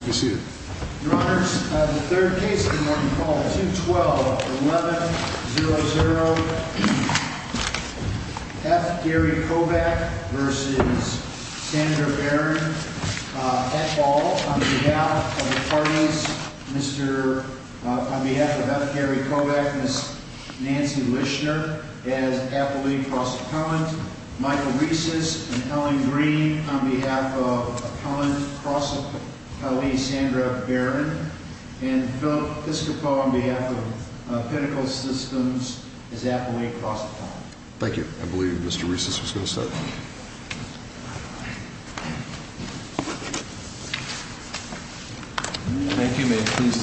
That's all on behalf of the parties. On behalf of F. Gary Kovac, Ms. Nancy Richner, and faculty across the column, Michael Reiss and Helen Green on behalf of the column across the late night, and the faculty across the Thank you. Thank you. Thank you. Thank you. Thank you. Thank you. Thank you. Thank you, Mr. Borkrow. Thank you, Chancellor Shuttleworth. Thank you very much. Thank you. Thank you, President. Thank you. In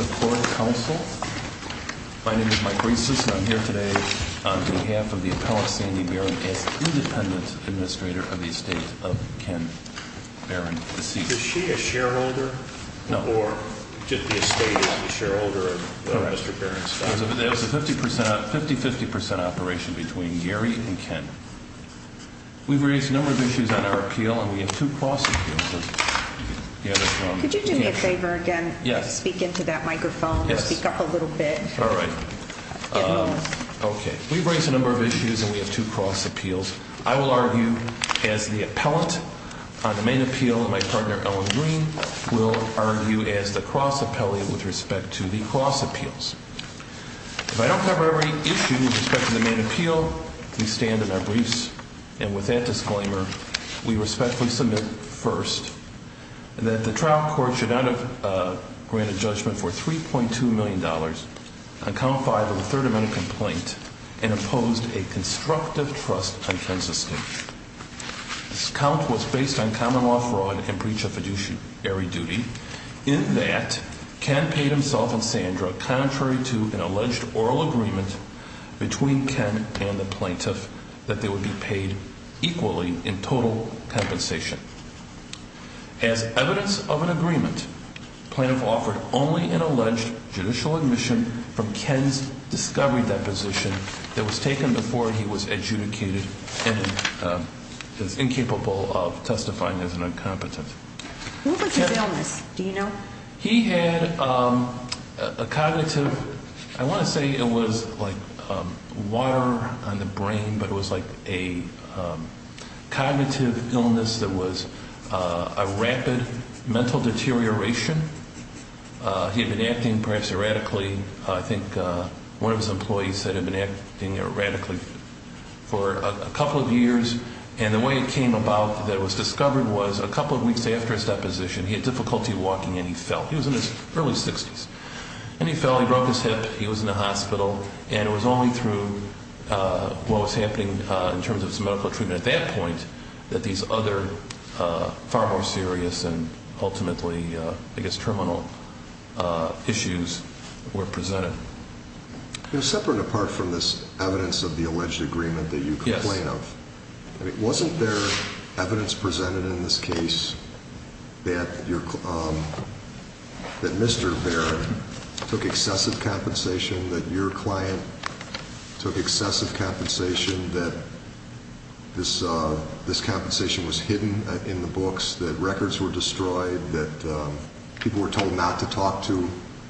that, Ken paid himself and Sandra, contrary to an alleged oral agreement between Ken and the plaintiff, that they would be paid equally in total compensation. As evidence of an agreement, the plaintiff offered only an alleged judicial admission from Ken's discovery deposition that was taken before he was adjudicated and is incapable of testifying as an incompetent. What was his illness? Do you know? He had a cognitive, I want to say it was like water on the brain, but it was like a cognitive illness that was a rapid mental deterioration. He had been acting perhaps erratically. I think one of his employees said he had been acting erratically for a couple of years. And the way it came about that it was discovered was a couple of weeks after his deposition, he had difficulty walking and he fell. He was in his early 60s. When he fell, he broke his hip. He was in the hospital. And it was only through what was happening in terms of his medical treatment at that point that these other far more serious and ultimately, I guess, terminal issues were presented. They're separate apart from this evidence of the alleged agreement that you complain of. Wasn't there evidence presented in this case that Mr. Baird took excessive compensation, that your client took excessive compensation, that this compensation was hidden in the books, that records were destroyed, that people were told not to talk to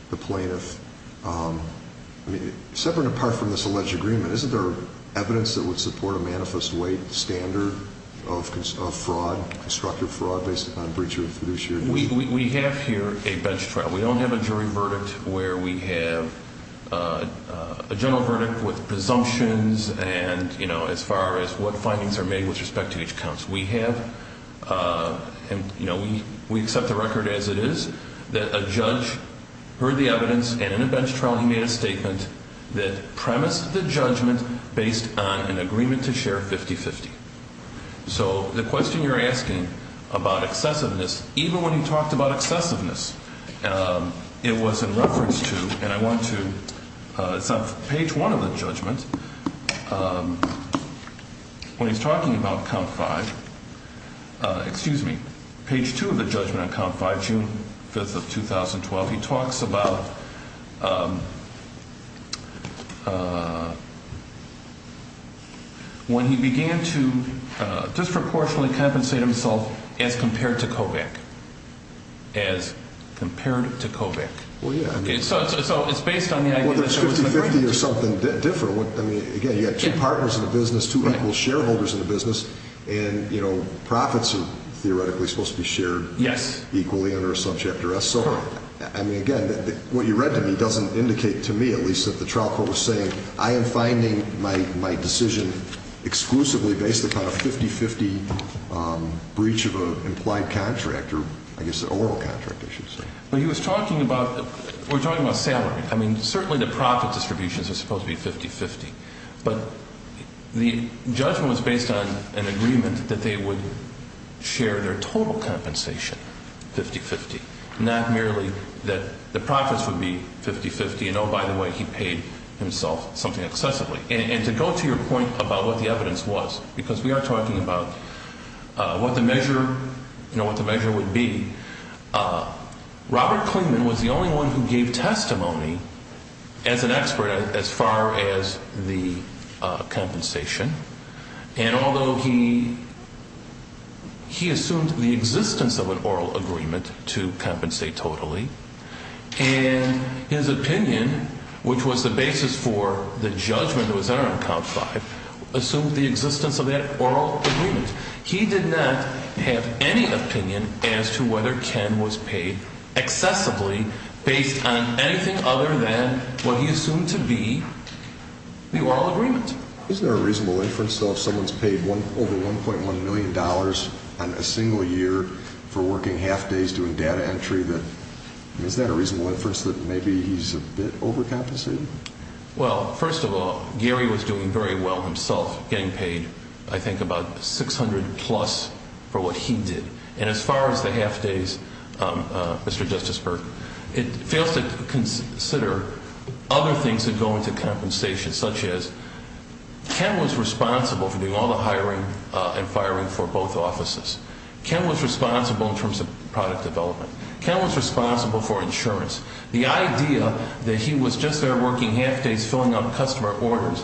the plaintiff? Separate apart from this alleged agreement, isn't there evidence that would support a manifest way standard of fraud, constructive fraud, based upon breach of fiduciary duty? We have here a bench trial. We don't have a jury verdict where we have a general verdict with presumptions and as far as what findings are made with respect to each counsel. We have, we accept the record as it is, that a judge heard the evidence and in a bench trial he made a statement that premised the judgment based on an agreement to share 50-50. The question you're asking about excessiveness, even when he talked about excessiveness, it was in reference to, and I want to, it's on page one of the judgment. When he's talking about count five, excuse me, page two of the judgment on count five, June 5th of 2012, he talks about when he began to disproportionately compensate himself as compared to Kovac, as compared to Kovac. Well, yeah, I mean, it's 50-50 or something different. I mean, again, you've got two partners in the business, two equal shareholders in the business, and, you know, profits are theoretically supposed to be shared equally under a subchapter S. So, I mean, again, what you read to me doesn't indicate to me, at least if the trial court was saying, I am finding my decision exclusively based upon a 50-50 breach of an implied contract, or I guess an overall contract, I should say. But he was talking about, we're talking about salary. I mean, certainly the profit distributions are supposed to be 50-50. But the judgment was based on an agreement that they would share their total compensation 50-50, not merely that the profits would be 50-50 and, oh, by the way, he paid himself something excessively. And to go to your point about what the evidence was, because we are talking about what the measure would be, Robert Klingman was the only one who gave testimony as an expert as far as the compensation. And although he assumed the existence of an oral agreement to compensate totally, and his opinion, which was the basis for the judgment that was there on count five, assumed the existence of that oral agreement. He did not have any opinion as to whether Ken was paid excessively based on anything other than what he assumed to be the oral agreement. Is there a reasonable inference, though, if someone's paid over $1.1 million a single year for working half days doing data entry, that is that a reasonable inference that maybe he's a bit overcompensated? Well, first of all, Gary was doing very well himself getting paid, I think, about $600 plus for what he did. And as far as the half days, Mr. Justice Berger, it failed to consider other things that go into compensation, such as Ken was responsible for doing all the hiring and firing for both offices. Ken was responsible in terms of product development. Ken was responsible for insurance. The idea that he was just there working half days filling out customer orders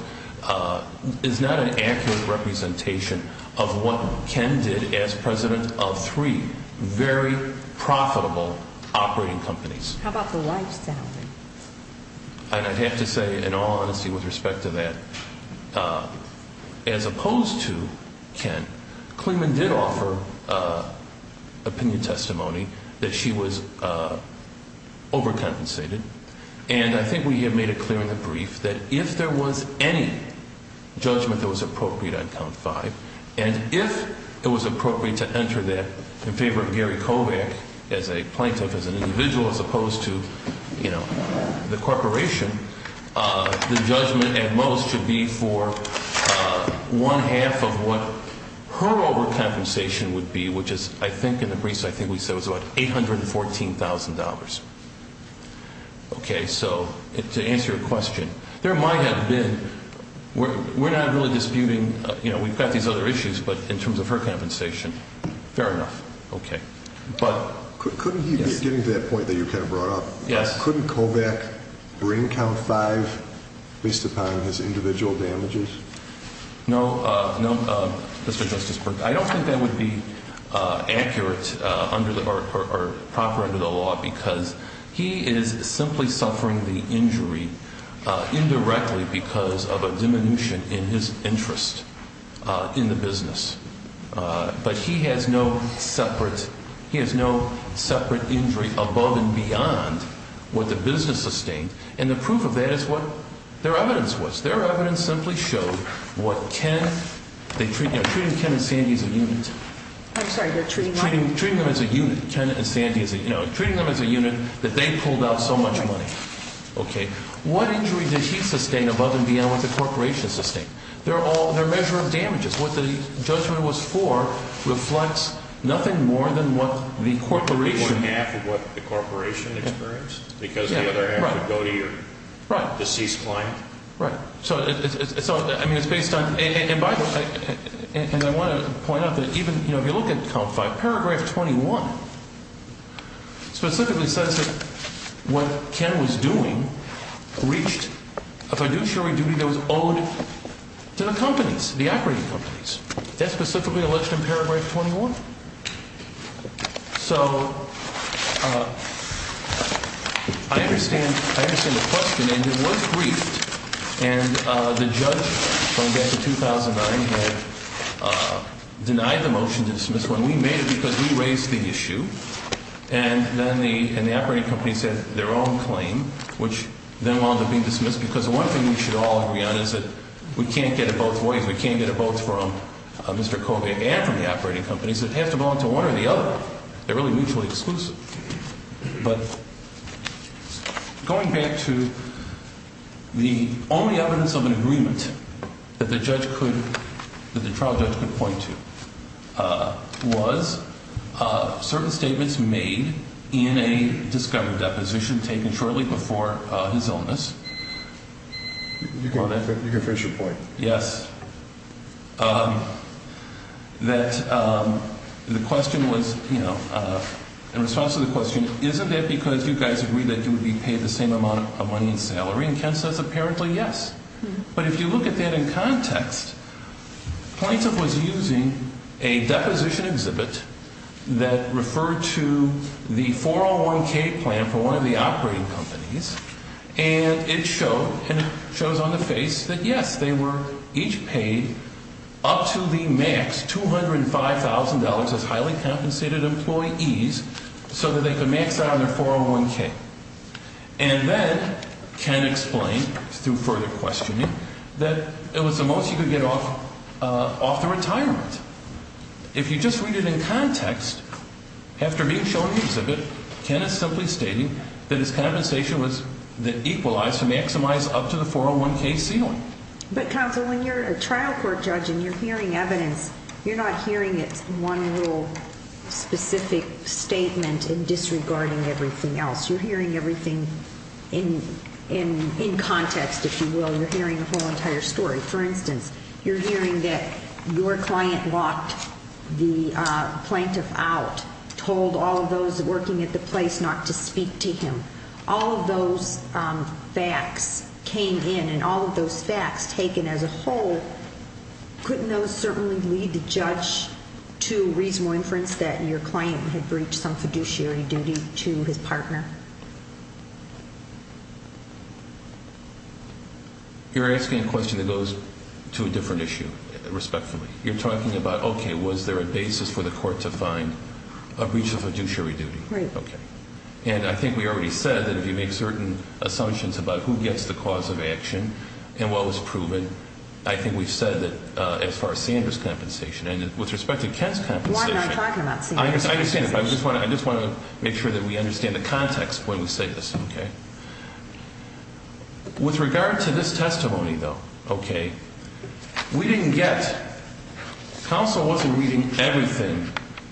is not an accurate representation of what Ken did as president of three very profitable operating companies. How about the White family? And I have to say, in all honesty, with respect to that, as opposed to Ken, Kleeman did offer opinion testimony that she was overcompensated. And I think we have made it clear in the brief that if there was any judgment that was appropriate on Ken's side, and if it was appropriate to enter that in favor of Gary Kovacs as a plaintiff, as an individual, as opposed to the corporation, the judgment at most would be for one half of what her overcompensation would be, which is, I think in the briefs, I think we said it was about $814,000. Okay, so to answer your question, there might have been, we're not really disputing, you know, we've got these other issues, but in terms of her compensation, fair enough. But getting to that point that you kind of brought up, couldn't Kovac bring count five based upon his individual damages? No, Mr. Justice, I don't think that would be accurate or proper under the law, because he is simply suffering the injury indirectly because of a diminution in his interest in the business. But he has no separate injury above and beyond what the business sustained. And the proof of that is what their evidence was. Their evidence simply showed what Ken, treating Ken and Sandy as a unit. I'm sorry, you're treating them as a unit? Treating them as a unit, Ken and Sandy as a unit. No, treating them as a unit, the bank pulled out so much money. Okay, what injury did she sustain above and beyond what the corporation sustained? They're all a measure of damages. What the judgment was for reflects nothing more than what the corporation— More than half of what the corporation experienced because of what they had to go through to cease crime. Right. So, I mean, it's based on, and by the way, and I want to point out that even, you know, if you look at count five, paragraph 21 specifically says that what Ken was doing reached, a fiduciary duty that was owed to the companies, the operating companies. That's specifically what's in paragraph 21? So, I understand, I understand the question and there's one tweet and the judge going back to 2009 had denied the motion to dismiss when we met because he raised the issue. And then the operating companies had their own claim, which then wanted to be dismissed because one thing we should all agree on is that we can't get a vote from Mr. Kobe and from the operating companies. It has to belong to one or the other. They're really mutually exclusive. But going back to the only evidence of an agreement that the trial judge could point to was certain statements made in a discovery deposition taken shortly before his illness. You can finish your point. Yes, that the question was, you know, in response to the question, isn't that because you guys agreed that you would be paid the same amount of money in salary? And Ken says apparently yes. But if you look at that in context, Plaintiff was using a deposition exhibit that referred to the 401k plan for one of the operating companies. And it shows on the page that yes, they were each paid up to the max $205,000 of highly compensated employees so that there's a max out on the 401k. And then Ken explained through further questioning that it was the most he could get off the retirement. If you just read it in context, after he showed the exhibit, Kenneth simply stated that his compensation was equalized to maximize up to the 401k ceiling. But counsel, when you're a trial court judge and you're hearing evidence, you're not hearing one little specific statement and disregarding everything else. You're hearing everything in context, if you will. You're hearing the whole entire story. For instance, you're hearing that your client walked the plaintiff out, told all of those working at the place not to speak to him. All of those facts came in and all of those facts taken as a whole, couldn't those certainly lead the judge to reasonable inference that your client had breached some fiduciary duty to his partner? You're asking a question that goes to a different issue, respectively. You're talking about, okay, was there a basis for the court to find a breach of fiduciary duty? And I think we already said that if you make certain assumptions about who gets the cause of action and what was proven, I think we've said that as far as seeing this compensation and with respect to Ken's compensation. I understand. I just want to make sure that we understand the context when we say this, okay? With regard to this testimony, though, okay, we didn't get counsel wasn't reading everything,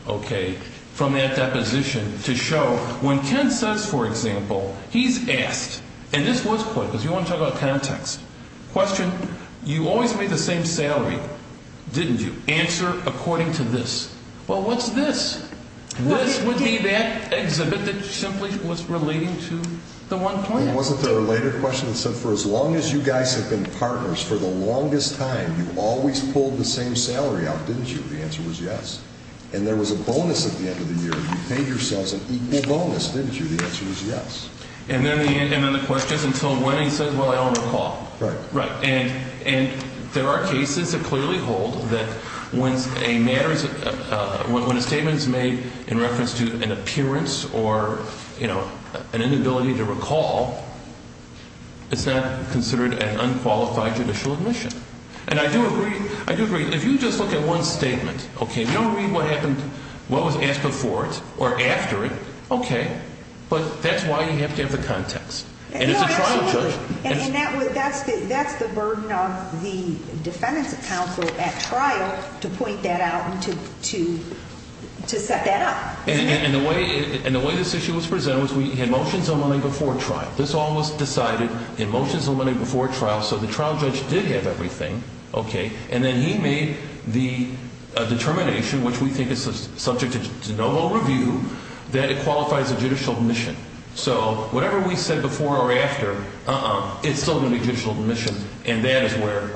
okay, from that deposition to show when Ken says, for example, he's asked, and this was put, because you want to talk about context. Question, you always made the same salary, didn't you? Answer according to this. Well, what's this? Which would be that exhibit that simply was relating to the 120? It wasn't a related question. It said for as long as you guys have been partners, for the longest time, you always pulled the same salary out, didn't you? The answer was yes. And there was a bonus at the end of the year. You paid yourselves an equal bonus, didn't you? The answer is yes. And then the question until when he says, well, I don't recall. Right. And there are cases that clearly hold that when a statement is made in reference to an appearance or, you know, an inability to recall, it's not considered an unqualified judicial admission. And I do agree. I do agree. If you just look at one statement, okay, you don't read what happened, what was asked before it or after it, okay. But that's why you have to have the context. And that's the burden of the defendant's counsel at trial to point that out and to set that up. And the way this issue was presented was we had motions of money before trial. This all was decided in motions of money before trial. So the trial judge did have everything, okay. And then he made the determination, which we think is subject to no overview, that it qualifies as a judicial admission. So whatever we said before or after is still a judicial admission, and that is where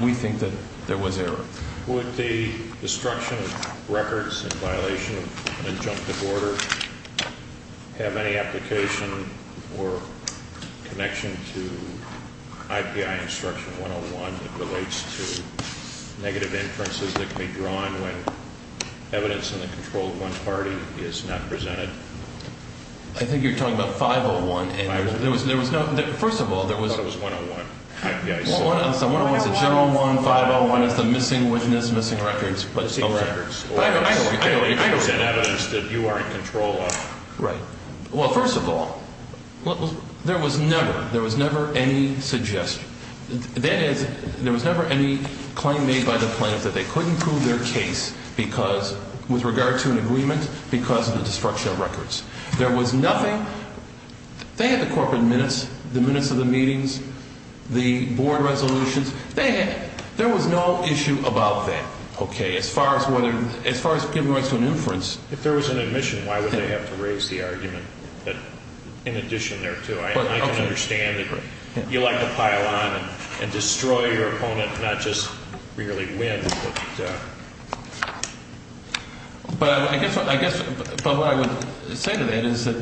we think that there was error. Would the destruction of records in violation of an injunctive order have any application or connection to IPI Instruction 101 that relates to negative inferences that can be drawn when evidence in the controlled one party is not presented? I think you're talking about 501. I thought it was 101. I thought it was a general one, 501, and it's a missing witness, missing records. I don't understand that. I don't understand that you are in control of. Right. Well, first of all, there was never any suggestion. There was never any claim made by the plaintiff that they couldn't prove their case with regard to an agreement because of the destruction of records. There was nothing. They had the corporate minutes, the minutes of the meetings, the board resolutions. They had. There was no issue about that, okay, as far as people went to an inference. If there was an admission, why would they have to raise the argument? But in addition there, too, I don't understand. You like to pile on and destroy your opponent, not just merely win. But I guess what I would say to that is that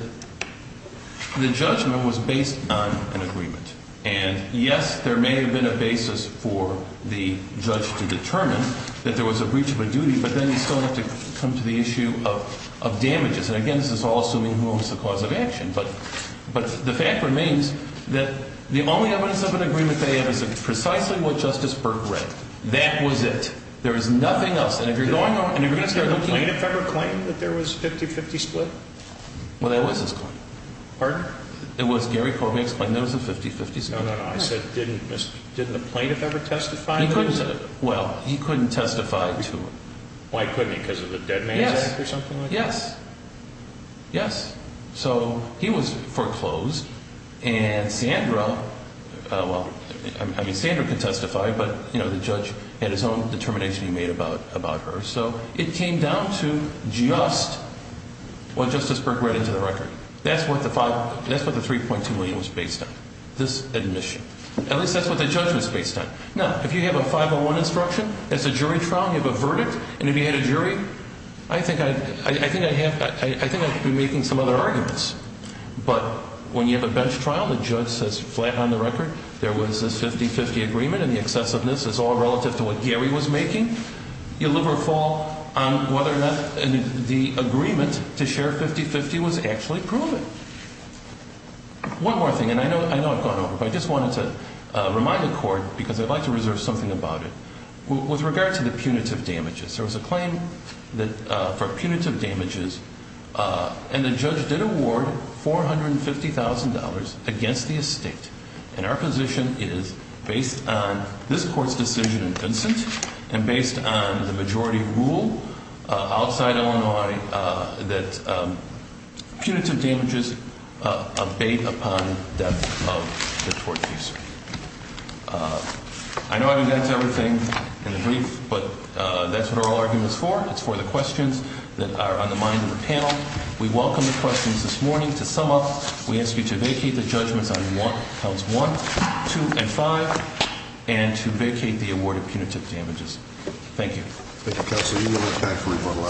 the judgment was based on an agreement. And, yes, there may have been a basis for the judge to determine that there was a breach of a duty, but then you still have to come to the issue of damages. And, again, this also involves the cause of action. But the fact remains that the only evidence of an agreement they have is precisely what Justice Burke read. That was it. There was nothing else in the agreement. Did the plaintiff ever claim that there was a 50-50 split? Well, there was a split. Pardon? There was. Gary Corbett claimed there was a 50-50 split. No, no, no. I said didn't the plaintiff ever testify to that? He couldn't. Well, he couldn't testify to it. Why couldn't he? Because of the dead man's act or something like that? Yes. Yes. So he was foreclosed. And Sandra, well, I mean, Sandra could testify, but, you know, the judge had his own determination he made about her. So it came down to just what Justice Burke read into the record. That's what the $3.2 million was based on, this admission. At least that's what the judgment is based on. Now, if you have a 501 instruction, that's a jury trial. You have a verdict. And if you had a jury, I think I should be making some other arguments. But when you have a bench trial, the judge says, flat on the record, there was this 50-50 agreement, and the excessiveness is all relative to what Gary was making. You'll never fall on whether or not the agreement to share 50-50 was actually proven. One more thing, and I know I've thought about this, but I just wanted to remind the Court, because I'd like to reserve something about it. With regard to the punitive damages, there was a claim for punitive damages, and the judge did award $450,000 against the estate. And our position is, based on this Court's decision in Vincent and based on the majority rule outside Illinois, that punitive damages abate upon death of the court case. I know I've advanced everything in the brief, but that's what our argument is for. That's for the questions that are on the minds of the panel. We welcome the questions this morning. To sum up, we ask you to vacate the judgments on Cells 1, 2, and 5, and to vacate the award of punitive damages. Thank you. Thank you, Counselor. We will look back for a rebuttal.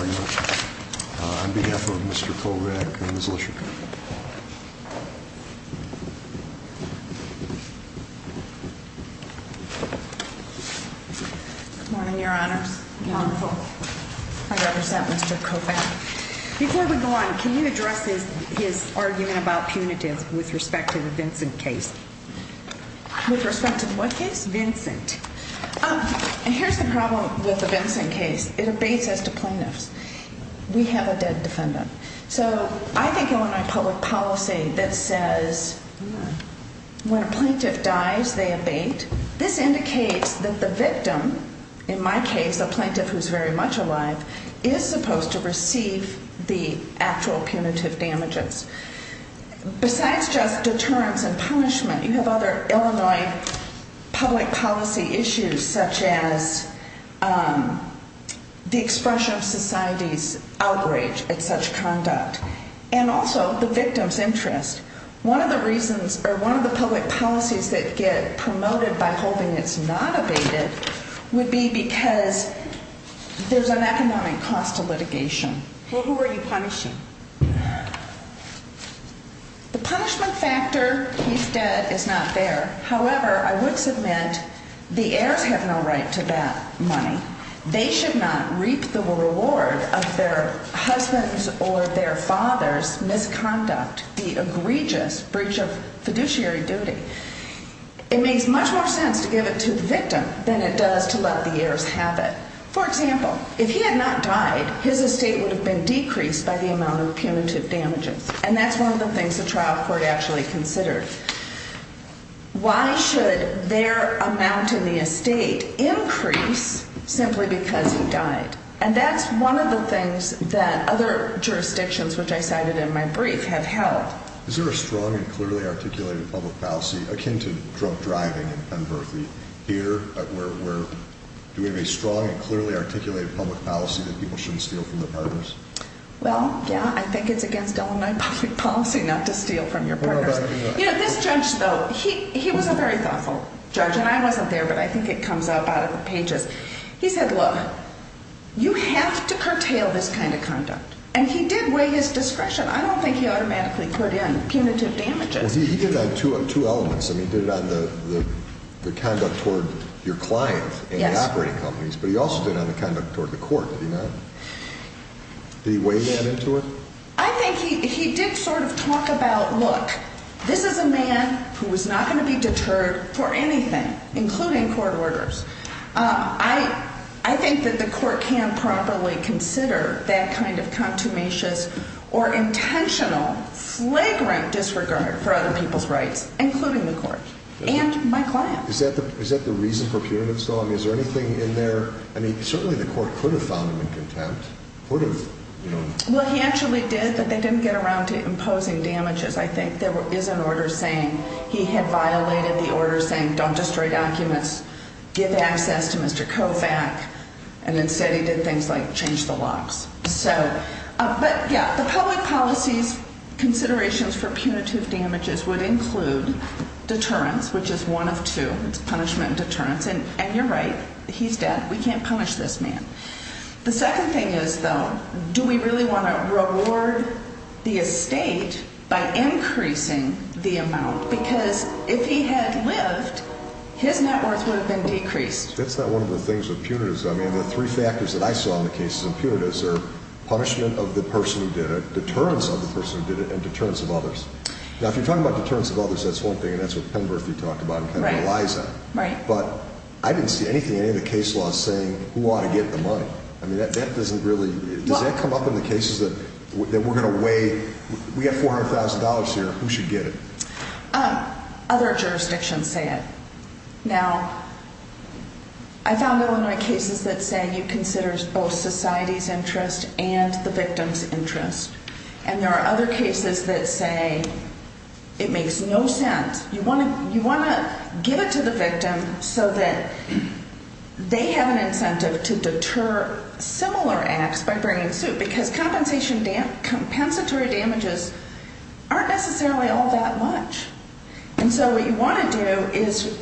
On behalf of the Mystery Program, Ms. Osher. Good morning, Your Honor. Good morning, Court. How was that, Mr. Copeland? Before we go on, can you address his argument about punitive with respect to the Vincent case? With respect to what case? Vincent. And here's the problem with the Vincent case. It abates at the plaintiff's. We have a dead defendant. So I think I want all of you to understand, that says, when a plaintiff dies, they abate. This indicates that the victim, in my case a plaintiff who's very much alive, is supposed to receive the actual punitive damages. Besides just the terms and punishment, you have other Illinois public policy issues, such as the expression of society's outrage at such conduct. And also, the victim's interest. One of the reasons, or one of the public policies that get promoted by holding this not abated, would be because there's an economic cost to litigation. Well, who are you punishing? The punishment factor, you said, is not there. However, I would submit, the heirs have no right to that money. They should not reap the reward of their husband's or their father's misconduct, the egregious breach of fiduciary duty. It makes much more sense to give it to the victim than it does to let the heirs have it. For example, if he had not died, his estate would have been decreased by the amount of punitive damages. And that's one of the things the trial court actually considers. Why should their amount in the estate increase simply because he died? And that's one of the things that other jurisdictions, which I cited in my brief, have held. Is there a strong and clearly articulated public policy, akin to drunk driving in Penn-Berkeley theater, where there is a strong and clearly articulated public policy that people shouldn't steal from their partners? Well, yeah, I think it's against Illinois public policy not to steal from your partner. You know, this judge, though, he was a very thoughtful judge. And I wasn't there, but I think it comes up on the pages. He said, look, you have to curtail this kind of conduct. And he did weigh his discretion. I don't think he unmaskly put in punitive damages. Well, he did on two elements. I mean, he did on the conduct toward your client and the operating companies, but he also did on the conduct toward the court. Did he weigh that into it? I think he did sort of talk about, look, this is a man who is not going to be deterred for anything, including court orders. I think that the court can properly consider that kind of contumacious or intentional, flagrant disregard for other people's rights, including the court's and my client's. Is that the reason for punitive so long? Is there anything in there? I mean, certainly the court could have done it in contempt. Well, he actually did, but they didn't get around to imposing damages. I think there is an order saying he had violated the order saying don't destroy documents, give access to Mr. Kovach, and instead he did things like change the locks. But, yes, the public policy considerations for punitive damages would include deterrence, which is one of two, punishment and deterrence. And you're right, he's dead. We can't punish this man. The second thing is, though, do we really want to reward the estate by increasing the amount? Because if he had lived, his net worth would have been decreased. That's not one of the things with punitive. I mean, there are three factors that I saw in the cases in punitive. There's the punishment of the person who did it, deterrence of the person who did it, and deterrence of others. Now, if you're talking about deterrence of others, that's one thing, and that's what Pemberley talked about and Eliza. Right. But I didn't see anything in any of the case laws saying who ought to get the money. I mean, that doesn't really – does that come up in the cases that we're going to weigh, we got $400,000 here, who should get it? Other jurisdictions say it. Now, I found Illinois cases that say it considers both society's interest and the victim's interest. And there are other cases that say it makes no sense. You want to give it to the victim so that they have an incentive to deter similar acts by bringing a suit, because compensatory damages aren't necessarily all that much. And so what you want to do is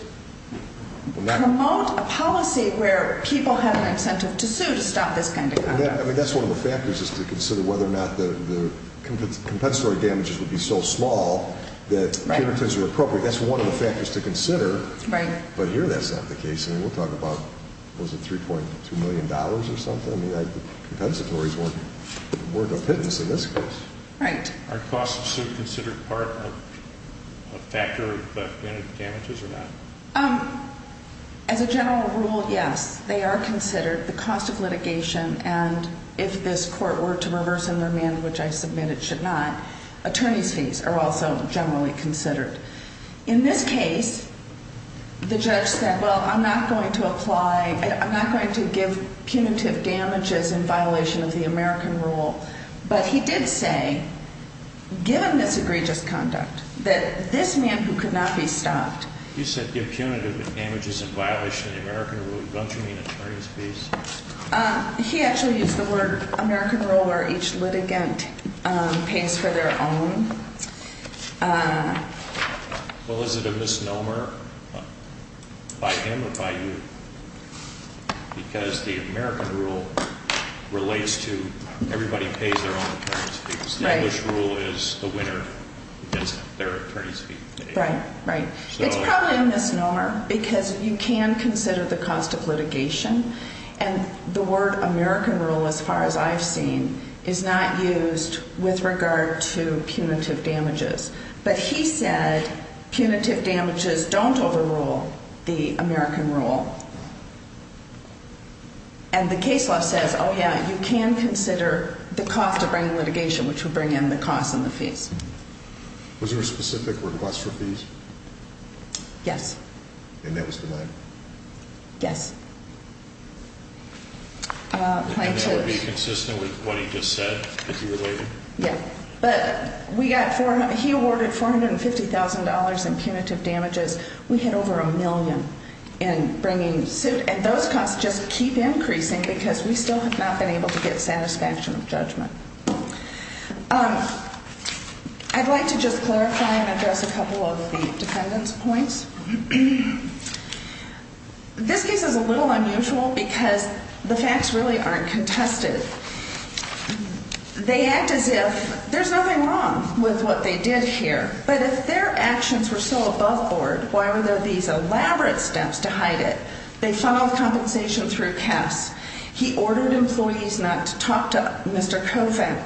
promote a policy where people have an incentive to sue to stop this kind of stuff. That's one of the factors is to consider whether or not the compensatory damages would be so small that damages are appropriate. That's one of the factors to consider. Right. But here that's not the case, and we'll talk about, what is it, $3.2 million or something, right, that compensatory is worth more than a pittance in this case. Right. Are costs still considered part of the factor of damages or not? As a general rule, yes, they are considered. The cost of litigation and if this court were to reverse and amend, which I submit it should not, attorneys fees are also generally considered. In this case, the judge said, well, I'm not going to apply, I'm not going to give punitive damages in violation of the American rule. But he did say, given this egregious conduct, that this man who could not be stopped. You said give punitive damages in violation of the American rule. What do you mean, attorneys fees? He actually used the word American rule where each litigant pays for their own. Well, is it a misnomer by him or by you? Because the American rule relates to everybody pays their own fees. Right. And this rule is the winner against the third attorney's fee. Right, right. It's called a misnomer because you can consider the cost of litigation and the word American rule, as far as I've seen, is not used with regard to punitive damages. But he said punitive damages don't overrule the American rule. And the case law says, oh, yeah, you can consider the cost of writing litigation, which would bring in the cost and the fee. Was there a specific request for fees? Yes. And that was denied? Yes. And that would be consistent with what he just said a few years later? Yes. But he awarded $450,000 in punitive damages. We had over a million. And those costs just keep increasing because we still have not been able to get satisfactory judgment. I'd like to just clarify and address a couple of the defendants' points. This is a little unusual because the facts really aren't contested. They act as if there's nothing wrong with what they did here. But if their actions were so above board, why were there these elaborate steps to hide it? They sum up compensation through tests. He ordered employees not to talk to Mr. Kovac.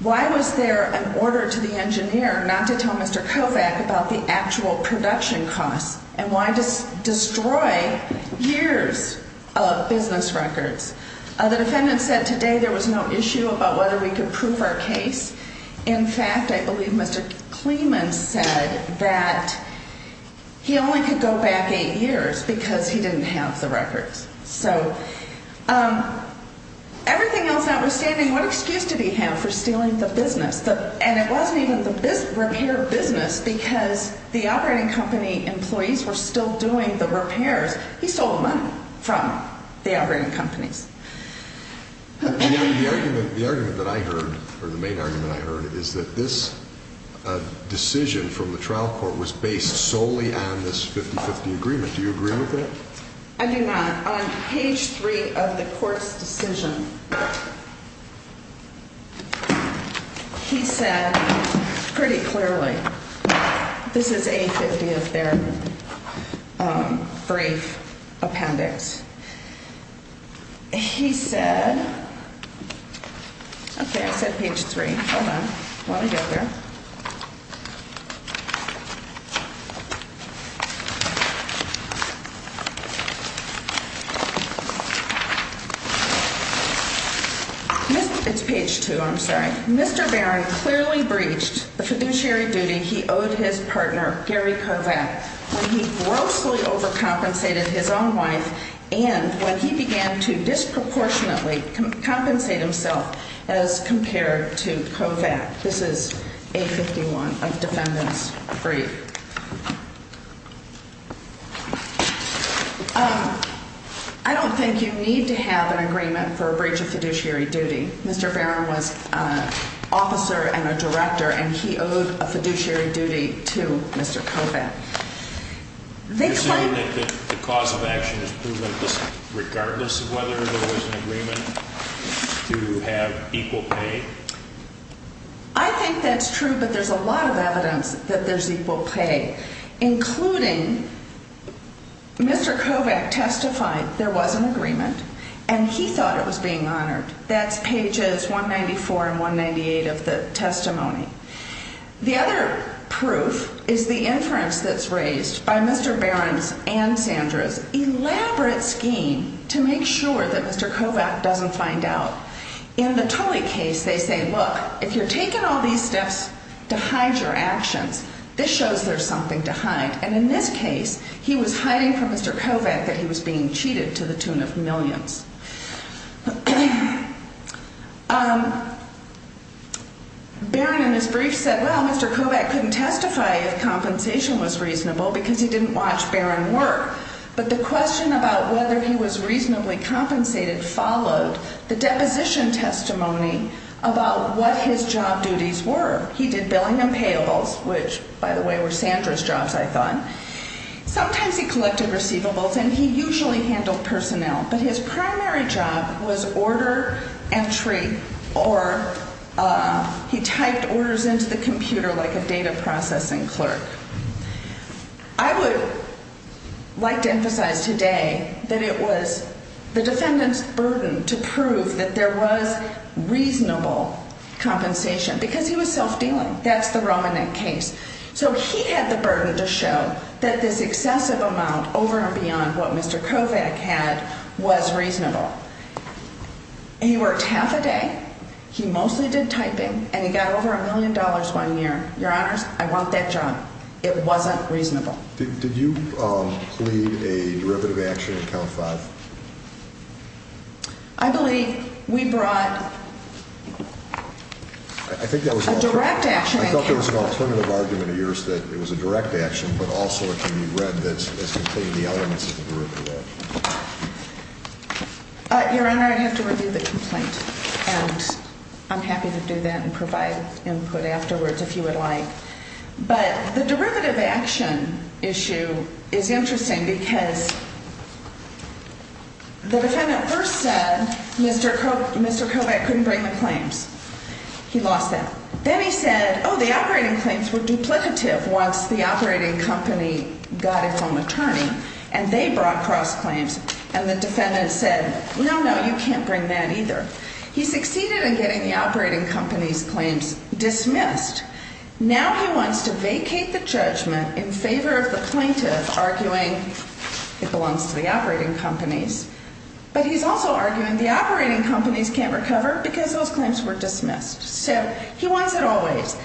Why was there an order to the engineer not to tell Mr. Kovac about the actual production costs? And why destroy years of business records? The defendant said today there was no issue about whether we could prove our case. In fact, I believe Mr. Kleeman said that he only could go back eight years because he didn't have the records. So everything else I was getting, what excuse did he have for stealing the business? And it wasn't even the repair business because the operating company employees were still doing the repairs. He stole the money from the operating company. The argument that I heard, or the main argument I heard, is that this decision from the trial court was based solely on this 50-50 agreement. Do you agree with that? I do not. On page three of the court's decision, he said pretty clearly, this is a 50-50 appendix. He said, okay, I said page three, hold on, while I get there. This is page two, I'm sorry. Mr. Barron clearly breached the fiduciary duty he owed his partner, Gary Kovac, when he grossly overcompensated his own wife, and when he began to disproportionately compensate himself as compared to Kovac. This is page 51 of the defendant's brief. I don't think you need to have an agreement for a breach of fiduciary duty. Mr. Barron was an officer and a director, and he owed a fiduciary duty to Mr. Kovac. I think that's true, but there's a lot of evidence that there's equal pay, including Mr. Kovac testified there was an agreement, and he thought it was being honored. That's pages 194 and 198 of the testimony. The other proof is the inference that's raised by Mr. Barron and Sandra's elaborate scheme to make sure that Mr. Kovac doesn't find out. In the Tully case, they say, look, if you're taking all these steps to hide your actions, this shows there's something to hide. And in this case, he was hiding from Mr. Kovac that he was being cheated to the tune of millions. Barron, in his brief, said, well, Mr. Kovac couldn't testify if compensation was reasonable because he didn't watch Barron work. But the question about whether he was reasonably compensated followed the deposition testimony about what his job duties were. He did billing and payables, which, by the way, were Sandra's jobs, I thought. Sometimes he collected receivables, and he usually handled personnel. But his primary job was order entry, or he typed orders into the computer like a data processing clerk. I would like to emphasize today that it was the defendant's burden to prove that there was reasonable compensation because he was self-dealing. That's the Romanette case. So he had the burden to show that this excessive amount over and beyond what Mr. Kovac had was reasonable. He worked half a day. He mostly did typing, and he got over a million dollars one year. Your Honors, I want that job. It wasn't reasonable. Did you plead a derivative action in Count 5? I believe we brought a direct action. I thought there was an alternative argument of yours that it was a direct action, but also if you read that it contained the elements of the derivative action. Your Honor, I have to review the complaint, and I'm happy to do that and provide input afterwards if you would like. But the derivative action issue is interesting because the defendant first said Mr. Kovac couldn't bring the claims. He lost it. Then he said, oh, the operating claims were duplicative once the operating company got his own attorney, and they brought cross-claims, and the defendant said, no, no, you can't bring that either. He succeeded in getting the operating company's claims dismissed. Now he wants to vacate the judgment in favor of the plaintiff arguing it belongs to the operating company, but he's also arguing the operating company can't recover because those claims were dismissed. So he wants it always.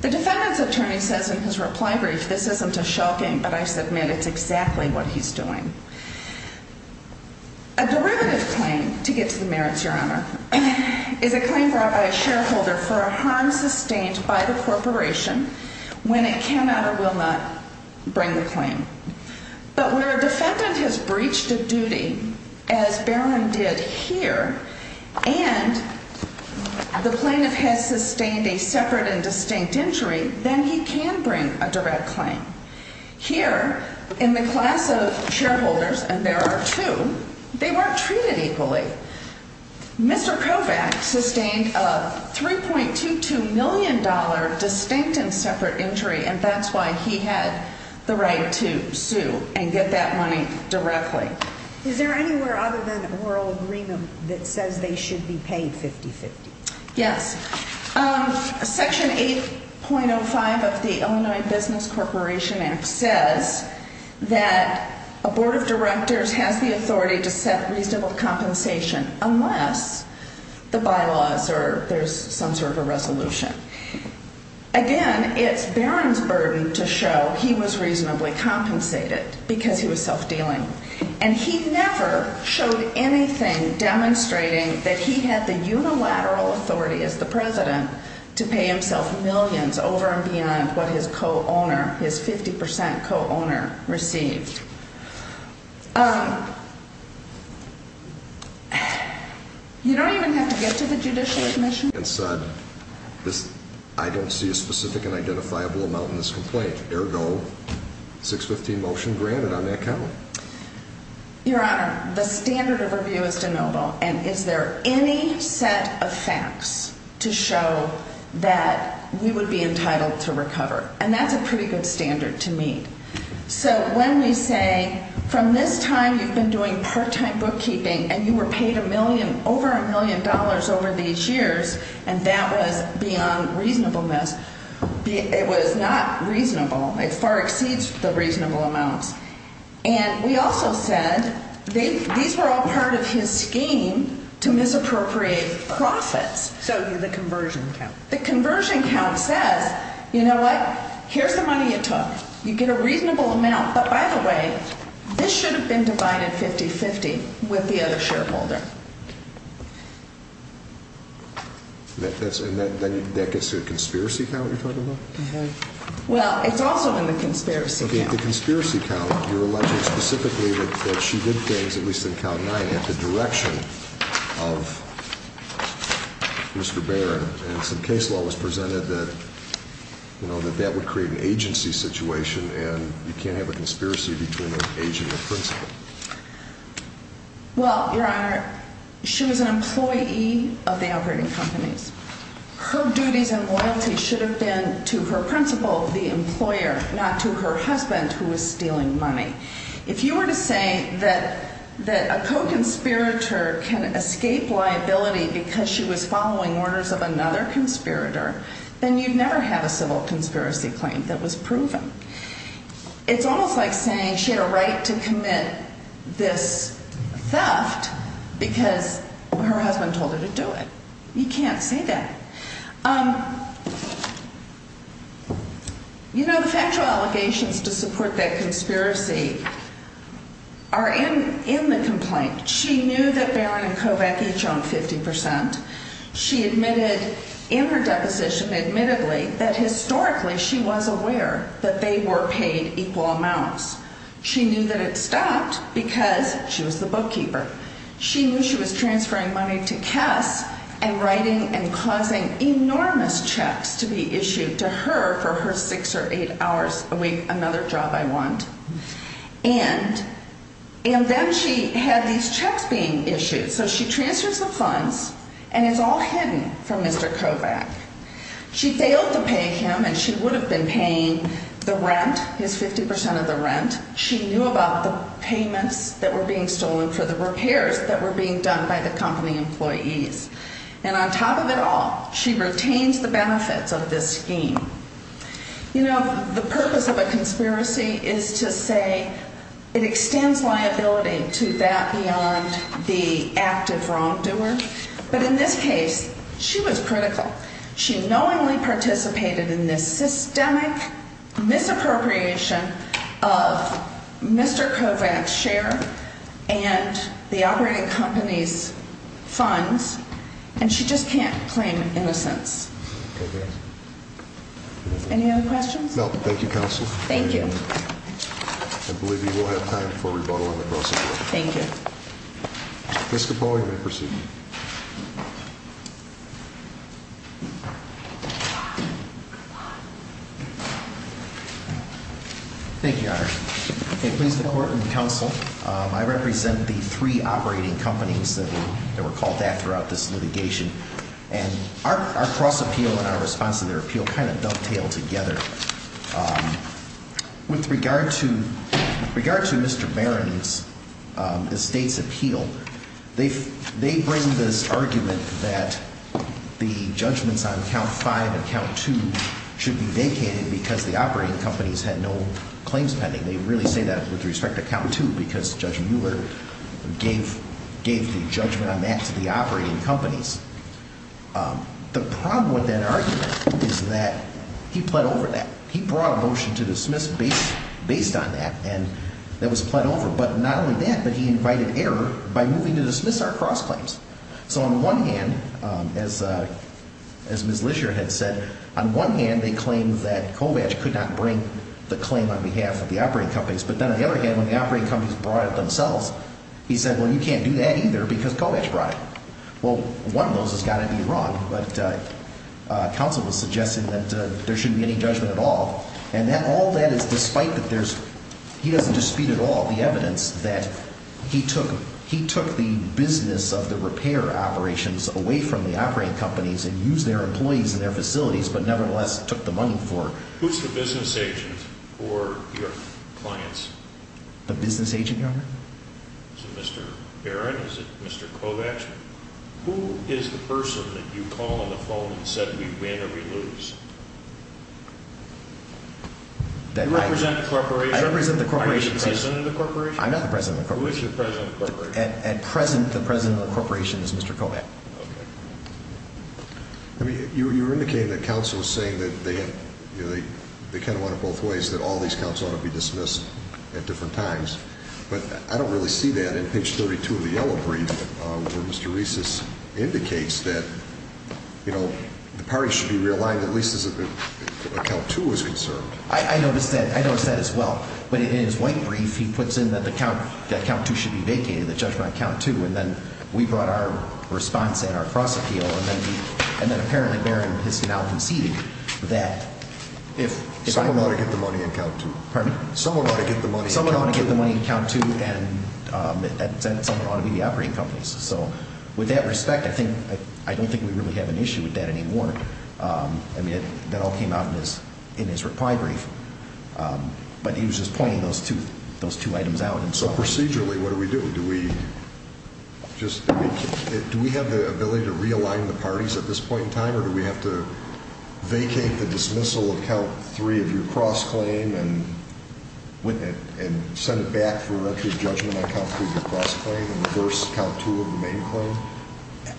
The defendant's attorney says in his reply brief, this isn't a shocking, but I submit it's exactly what he's doing. A derivative claim, to get to the merits, Your Honor, is a claim brought by a shareholder for a harm sustained by the corporation when it cannot or will not bring the claim. But where a defendant has breached a duty, as Barron did here, and the plaintiff has sustained a separate and distinct injury, then he can bring a direct claim. Here, in the class of shareholders, and there are two, they weren't treated equally. Mr. Kovacs sustained a $3.22 million distinct and separate injury, and that's why he has the right to sue and get that money directly. Is there anywhere other than the oral agreement that says they should be paid 50-50? Yes. Section 8.05 of the Illinois Business Corporation Act says that a board of directors has the authority to set reasonable compensation unless the bylaws or there's some sort of a resolution. Again, it's Barron's burden to show he was reasonably compensated because he was self-dealing. And he never showed anything demonstrating that he had the unilateral authority as the president to pay himself millions over and beyond what his co-owner, his 50% co-owner, received. You don't even have to get to the Judicial Commission. I don't see a specific and identifiable amount in this complaint. There are no 615 motions granted on that count. Your Honor, the standard of review is de novo. And is there any set of facts to show that he would be entitled to recovery? And that's a pretty good standard to me. So when they say, from this time you've been doing part-time bookkeeping and you were paid a million, over a million dollars over these years, and that was beyond reasonableness. It was not reasonable. It far exceeds the reasonable amount. And we also said these were all part of his scheme to misappropriate profits. So did the conversion count. The conversion count said, you know what? Here's the money it took. You get a reasonable amount. By the way, this should have been divided 50-50 with the other shareholder. And that gets to a conspiracy count, you're talking about? Well, it's also in the conspiracy count. Okay, the conspiracy count, you're alleging specifically that she did things, at least in count nine, in the direction of Mr. Barron. And some case law was presented that that would create an agency situation, and you can't have a conspiracy between an agency and a principal. Well, Your Honor, she was an employee of the operating company. Her duties and loyalty should have been to her principal, the employer, not to her husband, who was stealing money. If you were to say that a co-conspirator can escape liability because she was following orders of another conspirator, then you'd never have a civil conspiracy claim that was proven. It's almost like saying she had a right to commit this theft because her husband told her to do it. You can't say that. You know, the sexual allegations to support that conspiracy are in the complaint. She knew that Barron and Kovach had drunk 50%. She admitted in her deposition, admittedly, that historically she was aware that they were paid equal amounts. She knew that it's fact because she was the bookkeeper. She knew she was transferring money to Kess and writing and causing enormous checks to be issued to her for her six or eight hours a week, another job I want. And then she had these check being issued. So she transfers the funds, and it's all hidden from Mr. Kovach. She failed to pay him, and she would have been paying the rent, this 50% of the rent. She knew about the payments that were being stolen for the repairs that were being done by the company employees. And on top of it all, she retains the benefits of this scheme. You know, the purpose of a conspiracy is to say it extends liability to that beyond the act of wrongdoing. But in this case, she was critical. She knowingly participated in this systemic misappropriation of Mr. Kovach's share and the operating company's funds, and she just can't claim innocence. Okay. Any other questions? No, thank you, counsel. Thank you. I believe we will have time for rebuttal on the proceedings. Thank you. Ms. Capone, you may proceed. Thank you, Your Honor. Okay, please allow me to counsel. I represent the three operating companies that were called back throughout this litigation, and our cross-appeal and our response to their appeal kind of don't tail together. With regard to Mr. Barron's estate's appeal, they bring this argument that the judgments on count five and count two should be vacated because the operating companies had no claims pending. They really say that with respect to count two because Judge Mueller gave the judgment on that to the operating companies. The problem with that argument is that he plead over that. He brought a motion to dismiss based on that, and that was plead over. But not only that, but he invited error by moving to dismiss our cross-claims. So on the one hand, as Ms. Lisher had said, on one hand they claimed that Kovach could not bring the claim on behalf of the operating companies, but then on the other hand, when the operating companies brought it themselves, he said, well, you can't do that either because Kovach brought it. Well, one of those has got to be wrong, but counsel was suggesting that there shouldn't be any judgment at all. And all that is despite that he doesn't dispute at all the evidence that he took the business of the repair operations away from the operating companies and used their employees and their facilities but nevertheless took the money for it. Who's the business agent for your clients? The business agent, Your Honor? Mr. Barrett, is it Mr. Kovach? Who is the person that you call on the phone and said we win or we lose? You represent the corporation? I represent the corporation. Are you the president of the corporation? I'm not the president of the corporation. Who is the president of the corporation? At present, the president of the corporation is Mr. Kovach. Okay. I mean, you indicated that counsel was saying that they kind of wanted both ways, that all these counts ought to be dismissed at different times. But I don't really see that. In page 32 of the yellow brief, where Mr. Reese's indicates that, you know, the parties should be realigned at least as if a count two was conserved. I noticed that as well. When he did his white brief, he puts in that the count two should be vacated, the judgment on count two, and then we brought our response in, our cross appeal, and then apparently Barrett was now conceding that... Someone ought to get the money on count two. Pardon me? Someone ought to get the money on count two. Someone ought to get the money on count two, and then someone ought to be the operating companies. So with that respect, I don't think we really have an issue with that anymore. I mean, that all came out in his reply brief. But he was just pointing those two items out and so forth. Procedurally, what do we do? Do we just... Do we have the ability to realign the parties at this point in time, or do we have to vacate the dismissal of count three and give your cross claim and send it back for an actual judgment on count three, your cross claim, and reverse count two of the main claim?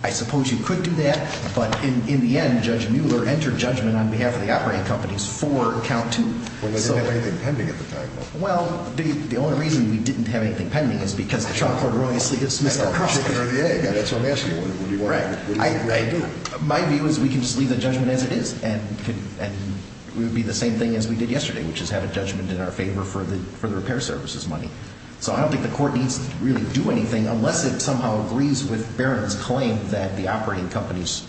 I suppose you could do that, but in the end, Judge Mueller entered judgment on behalf of the operating companies for count two. Well, they didn't have anything pending at the time, though. Well, the only reason we didn't have anything pending is because the charge for erroneous dismissal... That's what I'm asking you. Right. My view is we can just leave the judgment as it is, and it would be the same thing as we did yesterday, which is have a judgment in our favor for the repair services money. So I don't think the court needs to really do anything unless it somehow agrees with Barron's claim that the operating companies...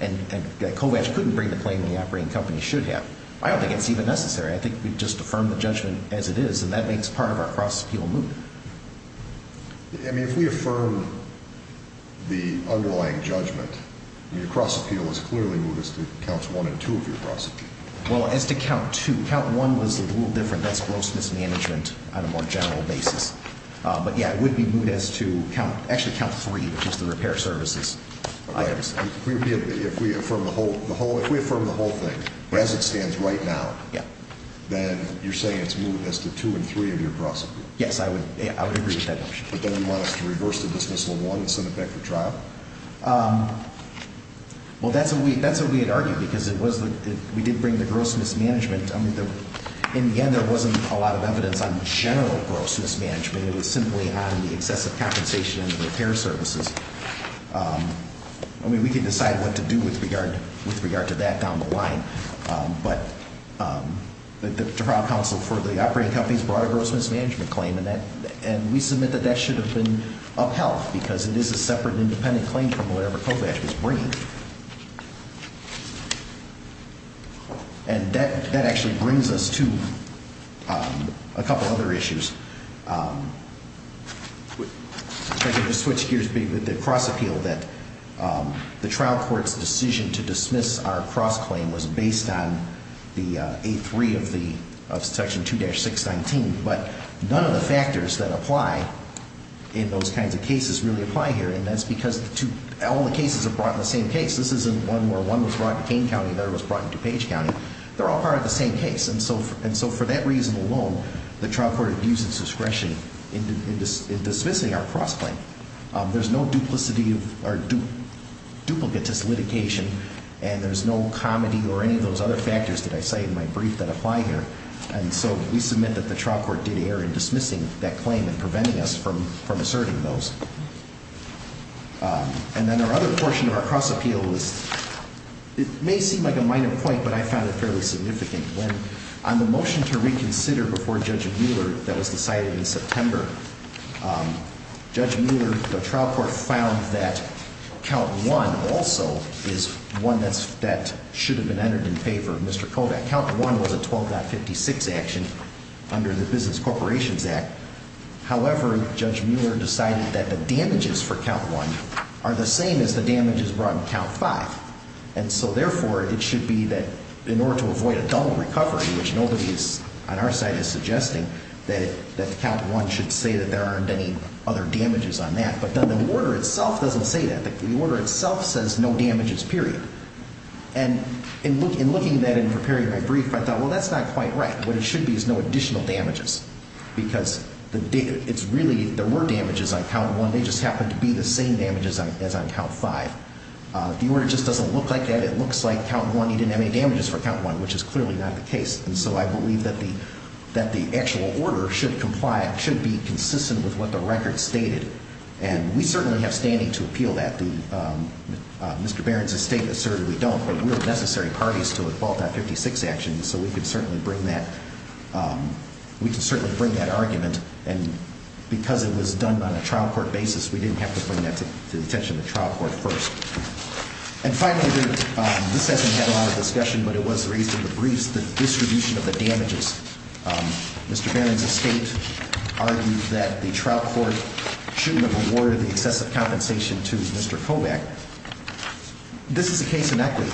And Kovacs couldn't bring the claim that the operating companies should have. I don't think it's even necessary. I think we just affirm the judgment as it is, and that makes part of our cross-appeal move. I mean, if we affirm the underlying judgment, your cross-appeal is clearly moved as to counts one and two of your cross-appeal. Well, as to count two. Count one was a little different. That's gross mismanagement on a more general basis. But, yeah, it would be moved as to actually count three, which is the repair services items. If we affirm the whole thing as it stands right now, then you're saying it's moved as to two and three of your cross-appeal? Yes, I would agree with that. But then you want us to reverse the dismissal while it's an effective trial. Well, that's what we had argued, because we did bring the gross mismanagement. In the end, there wasn't a lot of evidence on general gross mismanagement. It was simply on the excessive compensation and the repair services. I mean, we could decide what to do with regard to that down the line. But the trial counsel for the operating companies brought a gross mismanagement claim, and we submit that that should have been upheld because it is a separate and independent claim from whatever FOBAC was bringing. And that actually brings us to a couple other issues. I'm going to switch gears a bit with the cross-appeal that the trial court's decision to dismiss our cross-claim was based on the A3 of Section 2-619, but none of the factors that apply in those kinds of cases really apply here. And that's because all the cases are brought in the same case. This isn't one where one was brought in Kane County and the other was brought in DuPage County. They're all part of the same case. And so for that reason alone, the trial court abuses discretion in dismissing our cross-claim. There's no duplicity or duplicates its litigation, and there's no comedy or any of those other factors that I cited in my brief that apply here. And so we submit that the trial court did err in dismissing that claim and preventing us from asserting those. And then our other portion of our cross-appeal is, it may seem like a minor point, but I find it fairly significant. When on the motion to reconsider before Judge Mueller that was decided in September, Judge Mueller, the trial court, found that Count 1 also is one that should have been entered in favor of Mr. FOBAC. Count 1 was a 12.56 action under the Business Corporations Act. However, Judge Mueller decided that the damages for Count 1 are the same as the damages brought in Count 5. And so therefore, it should be that in order to avoid a double recovery, which nobody on our side is suggesting, that Count 1 should say that there aren't any other damages on that. But then the order itself doesn't say that. The order itself says no damages, period. And in looking at that in the period I briefed, I thought, well, that's not quite right. What it should be is no additional damages. Because there were damages on Count 1. They just happened to be the same damages as on Count 5. If the order just doesn't look like that, it looks like Count 1, he didn't have any damages for Count 1, which is clearly not the case. And so I believe that the actual order should comply, should be consistent with what the record stated. And we certainly have standing to appeal that. Mr. Barron's escape asserted we don't, but we have necessary parties to the Fallout 56 actions, so we could certainly bring that argument. And because it was done on a trial court basis, we didn't have to bring that to the attention of the trial court first. And finally, we haven't had a lot of discussion, but it was raised in the briefs, the distribution of the damages. Mr. Barron's escape argues that the trial court shouldn't have awarded the excessive compensation to Mr. Kobach. This is a case in equity,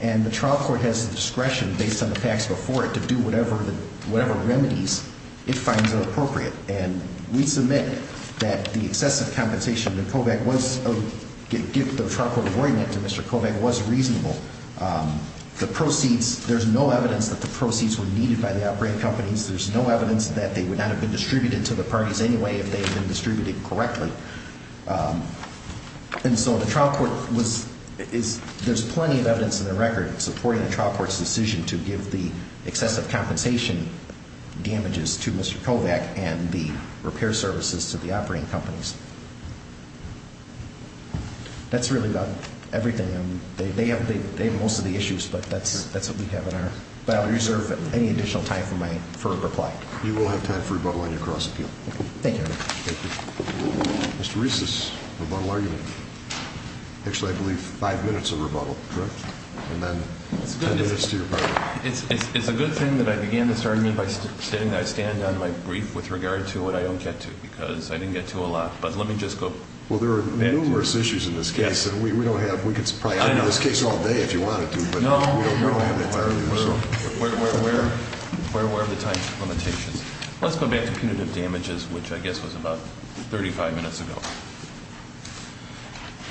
and the trial court has the discretion, based on the facts before it, to do whatever remedies it finds appropriate. And we submit that the excessive compensation that Kobach was, that the trial court awarded to Mr. Kobach was reasonable. The proceeds, there's no evidence that the proceeds were needed by the outbreak companies. There's no evidence that they would not have been distributed to the parties anyway if they had been distributed correctly. And so the trial court was, there's plenty of evidence in the record supporting the trial court's decision to give the excessive compensation damages to Mr. Kobach and the repair services to the operating companies. That's really about everything. They have most of the issues, but that's what we have on our file. I reserve any additional time for my further reply. You will have time for rebuttal when you cross the field. Thank you. Mr. Reese's rebuttal argument. Actually, I believe five minutes of rebuttal, correct? It's a good thing that I began this argument by standing down my grief with regard to what I didn't get to, because I didn't get to a lot. But let me just go. Well, there are numerous issues in this case, and we don't have, we could probably argue this case all day if you wanted to. Where were the types of limitations? Let's go back to punitive damages, which I guess was about 35 minutes ago.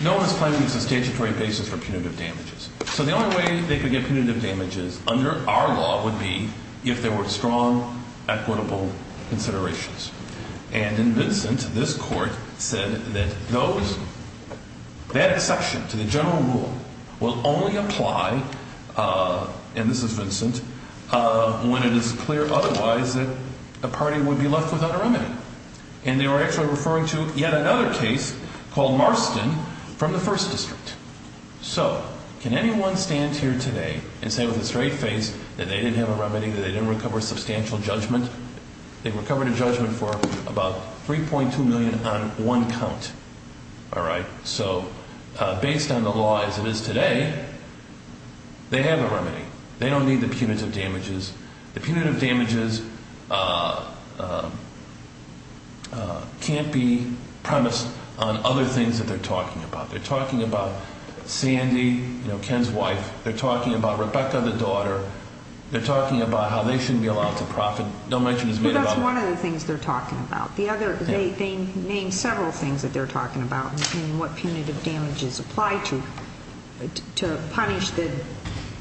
No one is claiming a statutory basis for punitive damages. So the only way they could get punitive damages under our law would be if there were strong, equitable considerations. And in this instance, this court said that those, that section to the general rule will only apply, and this is Vincent, when it is clear otherwise that the party would be left without a remedy. And they were actually referring to yet another case called Marston from the First District. So can anyone stand here today and say with a straight face that they didn't have a remedy, that they didn't recover substantial judgment? They recovered a judgment worth about $3.2 million on one count. All right. So based on the law as it is today, they have a remedy. They don't need the punitive damages. The punitive damages can't be premised on other things that they're talking about. They're talking about Sandy, you know, Ken's wife. They're talking about Rebecca, the daughter. They're talking about how they shouldn't be allowed to profit. That's one of the things they're talking about. The other, they named several things that they're talking about, including what punitive damages apply to, to punish the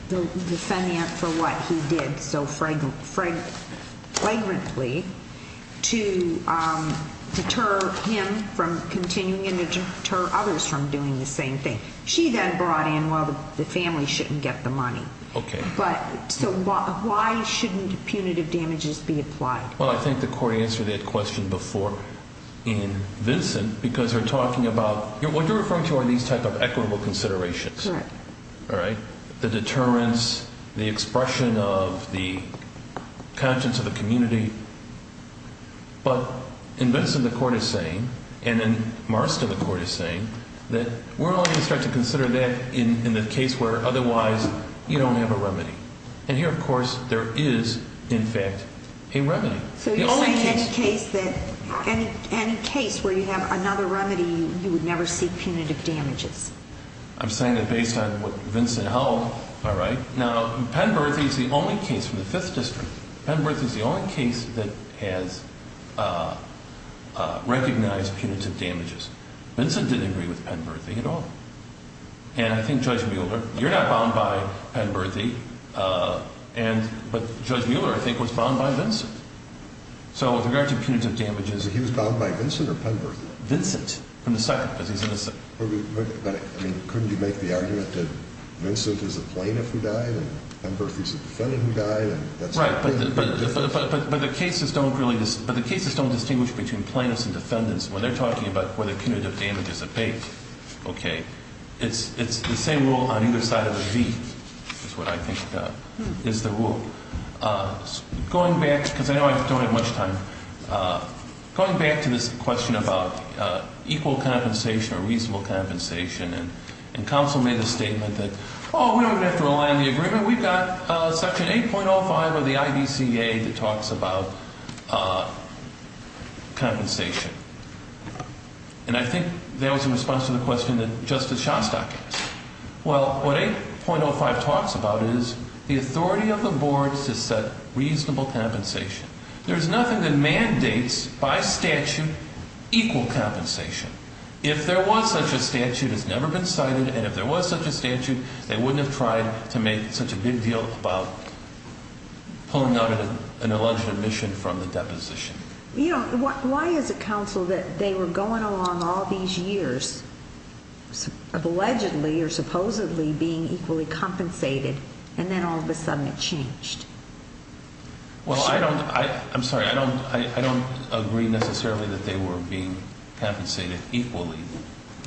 defendant for what he did so fragrantly to deter him from continuing and deter others from doing the same thing. She then brought in, well, the family shouldn't get the money. Okay. So why shouldn't punitive damages be applied? Well, I think the court answered that question before in Vincent because they're talking about what you're referring to are these type of equitable considerations. Correct. All right. The deterrence, the expression of the conscience of the community. But in Vincent the court is saying, and in Marcia the court is saying, that we're only going to try to consider that in the case where otherwise you don't have a remedy. And here, of course, there is, in fact, a remedy. And a case where you have another remedy, you would never see punitive damages. I'm saying that based on what Vincent held. All right. Now, Pennbrook is the only case in the Fifth District, Pennbrook is the only case that has recognized punitive damages. Vincent didn't agree with Pennbrook at all. And I think Judge Mueller, you're not bound by Pennbrook, but Judge Mueller, I think, was bound by Vincent. So with regard to punitive damages. He was bound by Vincent or Pennbrook? Vincent. I mean, couldn't you make the argument that Vincent is a plaintiff who died and Pennbrook is a defendant who died? Right. But the cases don't distinguish between plaintiffs and defendants. When they're talking about punitive damages of fate, okay, it's the same rule on either side of the beach is what I think is the rule. Going back, because I know I don't have much time, going back to this question about equal compensation or reasonable compensation and complementing the statement that, oh, we don't have to rely on the agreement. We've got Section 8.05 of the IDCA that talks about compensation. And I think that was in response to the question that Justice Shostak asked. Well, what 8.05 talks about is the authority of the board to set reasonable compensation. There's nothing that mandates by statute equal compensation. If there was such a statute, it's never been cited, and if there was such a statute, they wouldn't have tried to make such a big deal about pulling out an alleged omission from the deposition. Why is it, counsel, that they were going along all these years of allegedly or supposedly being equally compensated, and then all of a sudden it changed? Well, I'm sorry. I don't agree necessarily that they were being compensated equally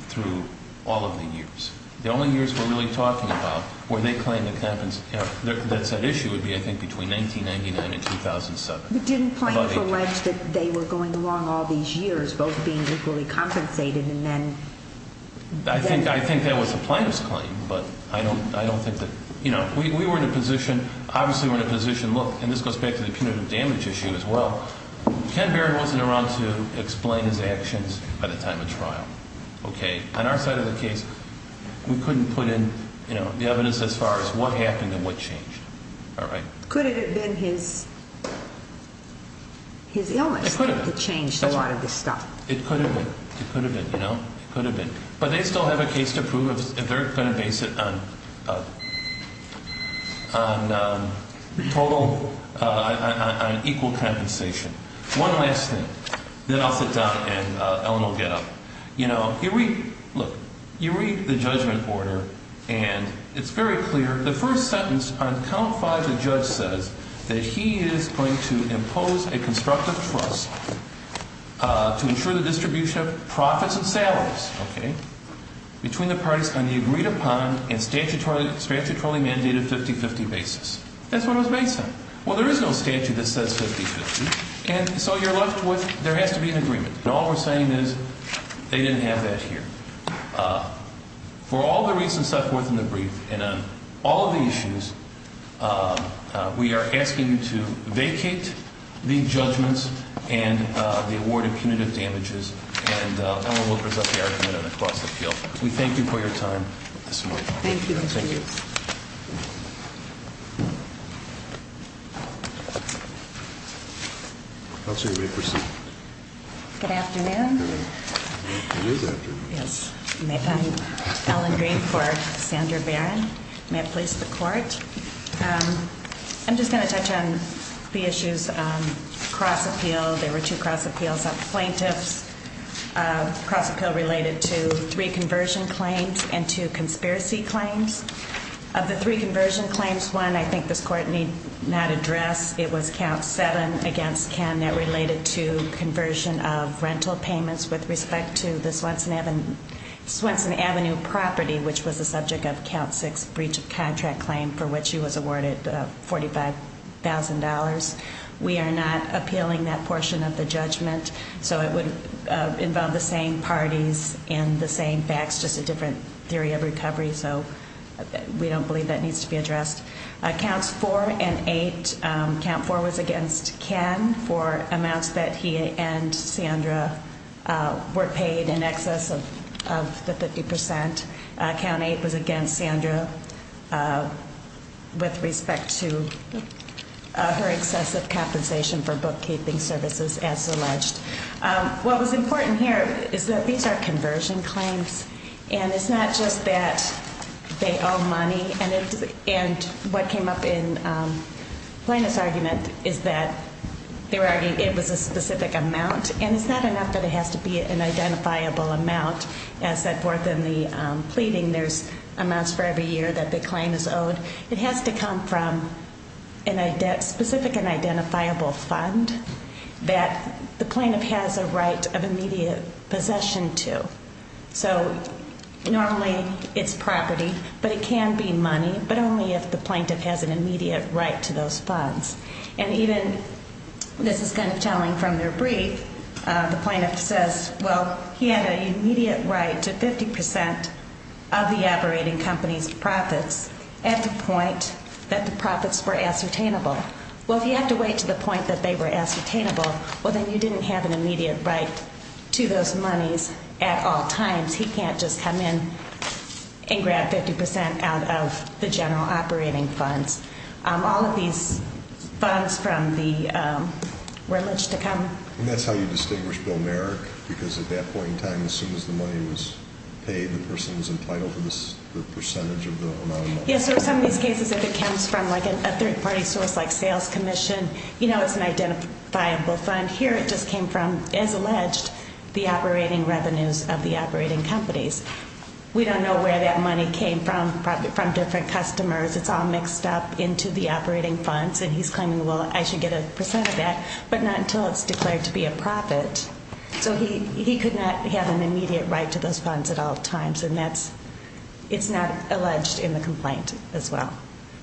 through all of the years. The only years we're really talking about where they claim that that issue would be, I think, between 1999 and 2007. You didn't claim for much that they were going along all these years, both being equally compensated and then— I think that was the plaintiff's claim, but I don't think that— We were in a position, obviously we were in a position, look, and this goes back to the cumulative damage issue as well, Ken Berry wasn't around to explain his actions at the time of the trial. On our side of the case, we couldn't put in evidence as far as what happened and what changed. Could it have been his illness? Could it have changed a lot of the stuff? It could have been. It could have been. It could have been. But they still have a case to prove if they're going to base it on total—on equal compensation. One last thing. Then I'll flip that, and then Ellen will get up. You know, you read—look, you read the judgment order, and it's very clear. The first sentence un-califies the judge that he is going to impose a constructive request to ensure the distribution of profits established between the parties on the agreed-upon and statutorily mandated 50-50 basis. That's what it was based on. Well, there is no statute that says 50-50, and so you're left with—there has to be an agreement. But all we're saying is they didn't have that here. For all the reasons I've put in the brief and on all of the issues, we are asking you to vacate these judgments and the award of punitive damages, and Ellen will present the argument on a constructive basis. We thank you for your time this morning. Thank you. Thank you. Good afternoon. You may have a brief for Senator Barron. May I please have the floor? I'm just going to touch on the issues across the field. There were two across the field, plaintiffs, cross-appeal related to three conversion claims and two conspiracy claims. Of the three conversion claims, one I think this Court need not address. It was Count 7 against Ken that related to conversion of rental payments with respect to the Swenson Avenue property, which was the subject of Count 6 breach of contract claim for which he was awarded $45,000. We are not appealing that portion of the judgment, so it would involve the same parties and the same facts, just a different theory of recovery. So we don't believe that needs to be addressed. Counts 4 and 8, Count 4 was against Ken for amounts that he and Sandra were paid in excess of the 50%. Count 8 was against Sandra with respect to her excessive compensation for bookkeeping services as alleged. What was important here is that these are conversion claims, and it's not just that they owe money. And what came up in the plaintiff's argument is that there is a specific amount, and it's not enough that it has to be an identifiable amount. As set forth in the pleading, there's amounts for every year that the claim is owed. It has to come from a specific and identifiable fund that the plaintiff has a right of immediate possession to. So normally it's property, but it can be money, but only if the plaintiff has an immediate right to those funds. And even, this is kind of telling from their brief, the plaintiff says, well, he had an immediate right to 50% of the operating company's profits at the point that the profits were ascertainable. Well, if he had to wait to the point that they were ascertainable, well, then he didn't have an immediate right to those monies at all times. He can't just come in and grab 50% out of the general operating fund. All of these funds from the religious accountants. And that's how you distinguish bill of merit? Because at that point in time, as soon as the money was paid, the person was entitled to the percentage of bill of merit? Yes, so in some cases it comes from a three-party source like sales commission. You know it's an identifiable fund. Here it just came from, as alleged, the operating revenues of the operating companies. We don't know where that money came from, from different customers. It's all mixed up into the operating funds. And he's claiming, well, I should get a percent of that, but not until it's declared to be a profit. So he could not have an immediate right to those funds at all times. And that's, it's not alleged in the complaint as well.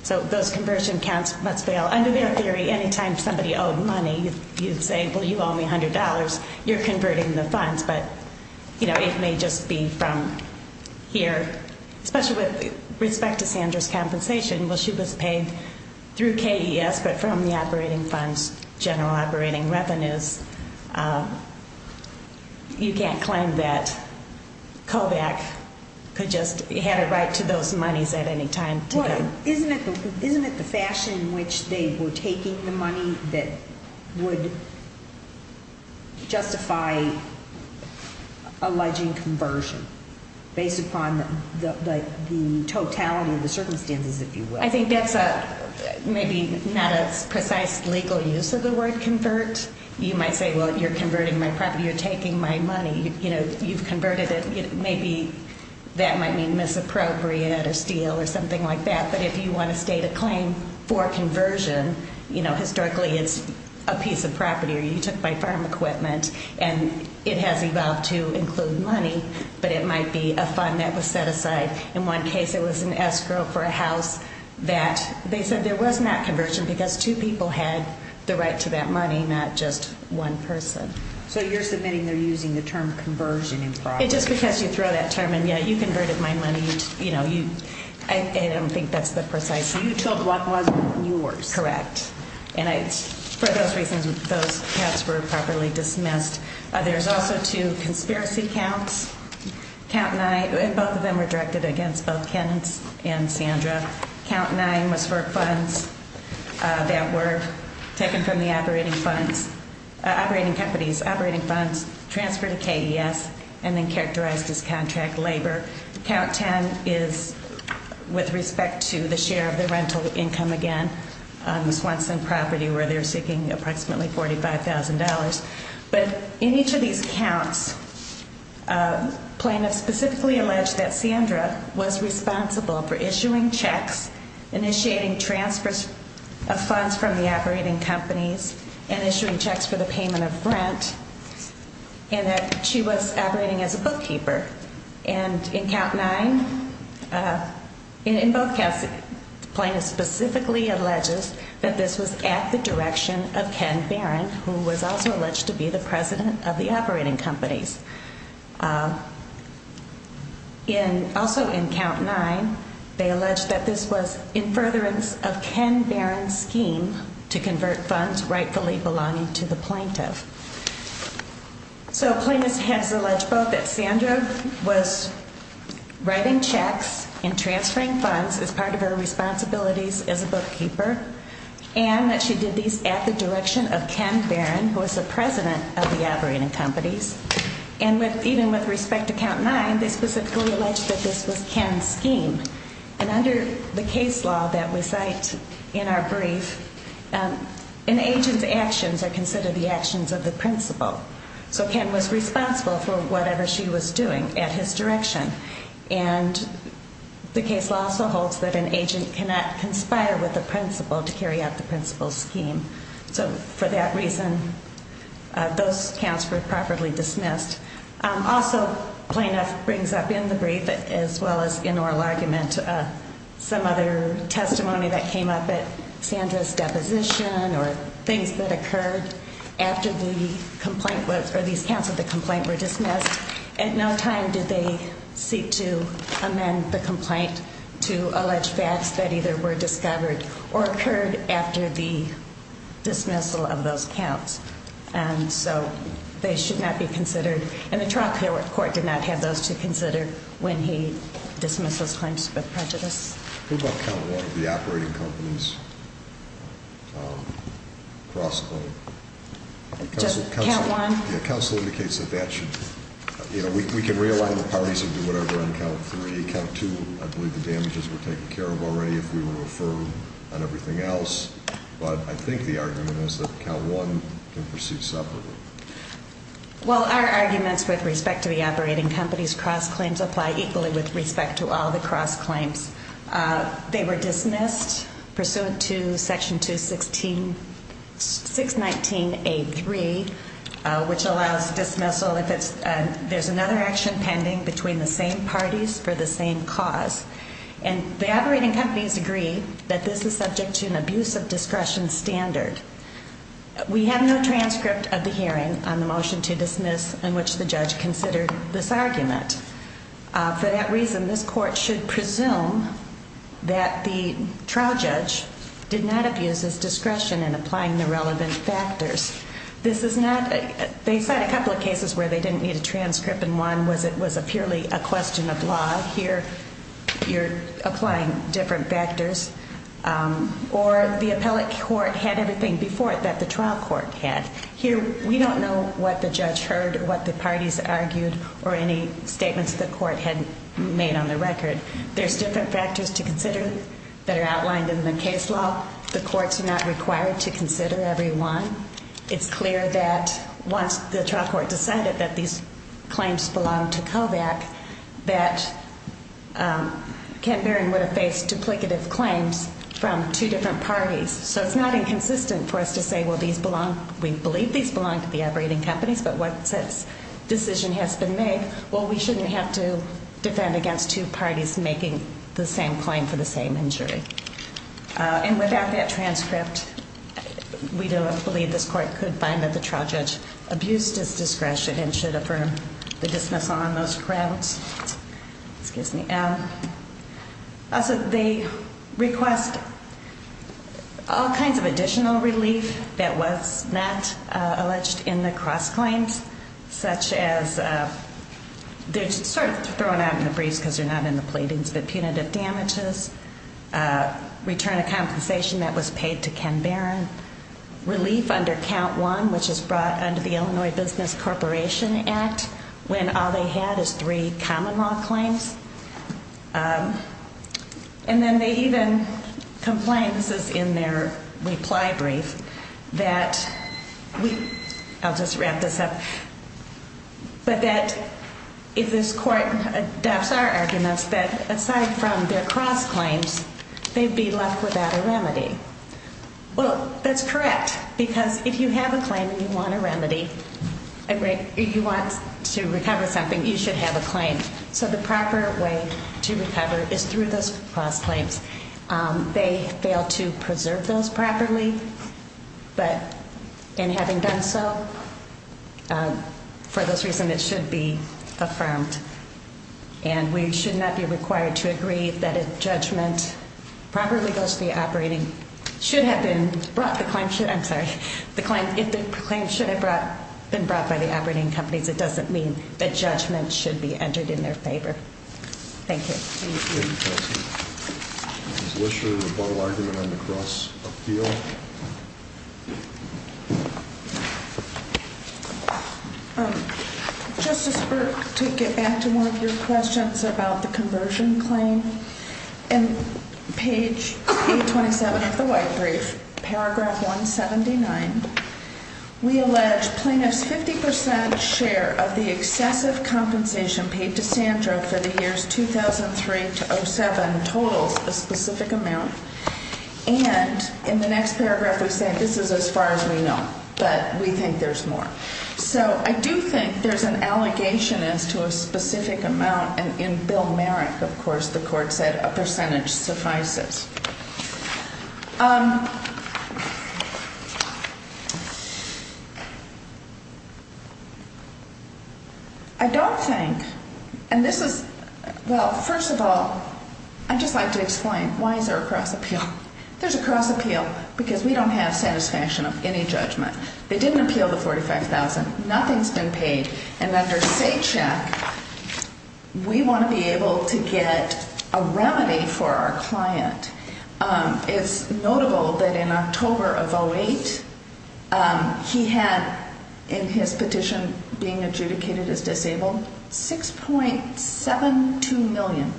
So those conversion accounts must fail. Under their theory, any time somebody owed money, you say, well, you owe me $100, you're converting the funds. But, you know, it may just be from here. Especially with respect to Sandra's compensation. Well, she was paid through KES, but from the operating funds, general operating revenues. You can't claim that COVAX could just, had a right to those monies at any time. Isn't it the fashion in which they were taking the money that would justify alleging conversion? Based upon the totality of the circumstances, if you will. I think that's a, maybe not a precise legal use of the word convert. You might say, well, you're converting my property, you're taking my money. You know, you've converted it. Maybe that might mean misappropriated, a steal, or something like that. But if you want to state a claim for a conversion, you know, historically it's a piece of property or you took my farm equipment. And it has evolved to include money, but it might be a fund that was set aside. In one case, it was an escrow for a house that, they said there was not conversion because two people had the right to that money, not just one person. So you're submitting they're using the term conversion in fraud? It just could catch you through that, Chairman. Yeah, you converted my money. You know, you, I don't think that's the precise use. You took what was yours. Correct. And I, for those reasons, those tests were properly dismissed. There's also two conspiracy counts. Count 9, both of them were directed against both Ken and Sandra. Count 9 was for funds that were taken from the operating fund, operating companies, operating funds, transferred to KES, and then characterized as contract labor. Count 10 is with respect to the share of the rental income, again, once in property where they're seeking approximately $45,000. But in each of these counts, plaintiffs specifically allege that Sandra was responsible for issuing checks, initiating transfers of funds from the operating companies, and issuing checks for the payment of rent, and that she was operating as a bookkeeper. And in Count 9, in both counts, plaintiffs specifically allege that this was at the direction of Ken Barron, who was also alleged to be the president of the operating companies. In, also in Count 9, they allege that this was in furtherance of Ken Barron's scheme to convert funds rightfully belonging to the plaintiff. So, plaintiffs have alleged both that Sandra was writing checks and transferring funds as part of her responsibilities as a bookkeeper, and that she did these at the direction of Ken Barron, who was the president of the operating companies. And even with respect to Count 9, they specifically allege that this was Ken's scheme. And under the case law that we cite in our brief, an agent's actions are considered the actions of the principal. So, Ken was responsible for whatever she was doing at his direction. And the case also holds that an agent cannot conspire with a principal to carry out the principal's scheme. So, for that reason, those counts were properly dismissed. Also, plaintiff brings up in the brief, as well as in oral argument, some other testimony that came up at Sandra's deposition or things that occurred after the complaint was, or these counts of the complaint were dismissed. At no time did they seek to amend the complaint to allege that that either were discovered or occurred after the dismissal of those counts. And so, they should not be considered. And the trial court did not have those two considered when he dismissed those claims of prejudice. Who got Count 1, the operating company's cross-claim? Just Count 1? Count 1 indicates that that should... You know, we can realign the parties and do whatever on Count 3. Count 2, I believe the damages were taken care of already if we were referred on everything else. But I think the argument is that Count 1 can proceed separately. Well, our arguments with respect to the operating company's cross-claims apply equally with respect to all the cross-claims. They were dismissed pursuant to Section 216, 619A3, which allows dismissal if there's another action pending between the same parties for the same cause. And the operating companies agree that this is subject to an abuse of discretion standard. We have no transcript of the hearing on the motion to dismiss in which the judge considered this argument. For that reason, this court should presume that the trial judge did not abuse his discretion in applying the relevant factors. They've had a couple of cases where they didn't need a transcript and one was purely a question of laws. Here, you're applying different factors. Or the appellate court had everything before it that the trial court had. Here, we don't know what the judge heard or what the parties argued or any statements the court had made on the record. There's different factors to consider that are outlined in the case law. The court's not required to consider every one. It's clear that once the trial court decided that these claims belonged to COVAC, that Ken Berry would have faced duplicative claims from two different parties. So it's not inconsistent for us to say, well, we believe these belong to the operating companies, but once the decision has been made, well, we shouldn't have to defend against two parties making the same claim for the same injury. And without that transcript, we don't believe this court could find that the trial judge abused his discretion and should affirm the dismissal on those grounds. They request all kinds of additional relief that was not alleged in the cross-claims, such as, they're sort of thrown out in the breeze because they're not in the pleadings, but punitive damages, return of compensation that was paid to Ken Berry, relief under count one, which is brought under the Illinois Business Corporation Act, when all they had is three common law claims. And then they even complained in their reply brief that, I'll just wrap this up, that if this court, that's our argument, that aside from their cross-claims, they'd be left without a remedy. Well, that's correct, because if you have a claim and you want a remedy, if you want to recover something, you should have a claim. So the proper way to recover is through those cross-claims. They fail to preserve those properly, but in having done so, for those reasons, it should be affirmed. And we should not be required to agree that if judgment properly goes to the operating, should have been brought, the claim should have been brought by the operating company. That doesn't mean that judgment should be entered in their favor. Thank you. Thank you. Mr. Blisher, what were you going to run across appeal? Just to get back to one of your questions about the conversion claim, in page 827 of the white brief, paragraph 179, we allege plaintiff's 50 percent share of the excessive compensation paid to Sandra for the year 2003-07 totaled a specific amount, and in the next paragraph we say this is as far as we know, but we think there's more. So I do think there's an allegation as to a specific amount, and in Bill Merrick, of course, the court said a percentage suffices. I don't think, and this is, well, first of all, I'd just like to explain why there's a cross appeal. There's a cross appeal because we don't have satisfaction of any judgment. They didn't appeal the $45,000. Nothing's been paid, and under state check, we want to be able to get a remedy for our client. It's notable that in October of 08, he had in his petition being adjudicated as disabled 6.72 million,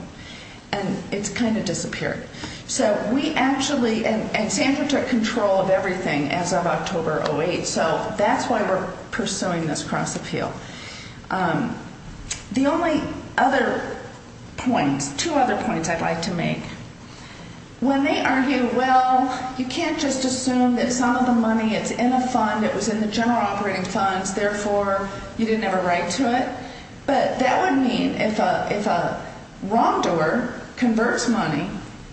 and it kind of disappeared. So we actually, and Sandra took control of everything as of October 08, so that's why we're pursuing this cross appeal. The only other point, two other points I'd like to make. When they argue, well, you can't just assume that some of the money is in the fund, it was in the general operating funds, therefore, you didn't have a right to it, but that would mean if a wrongdoer converts money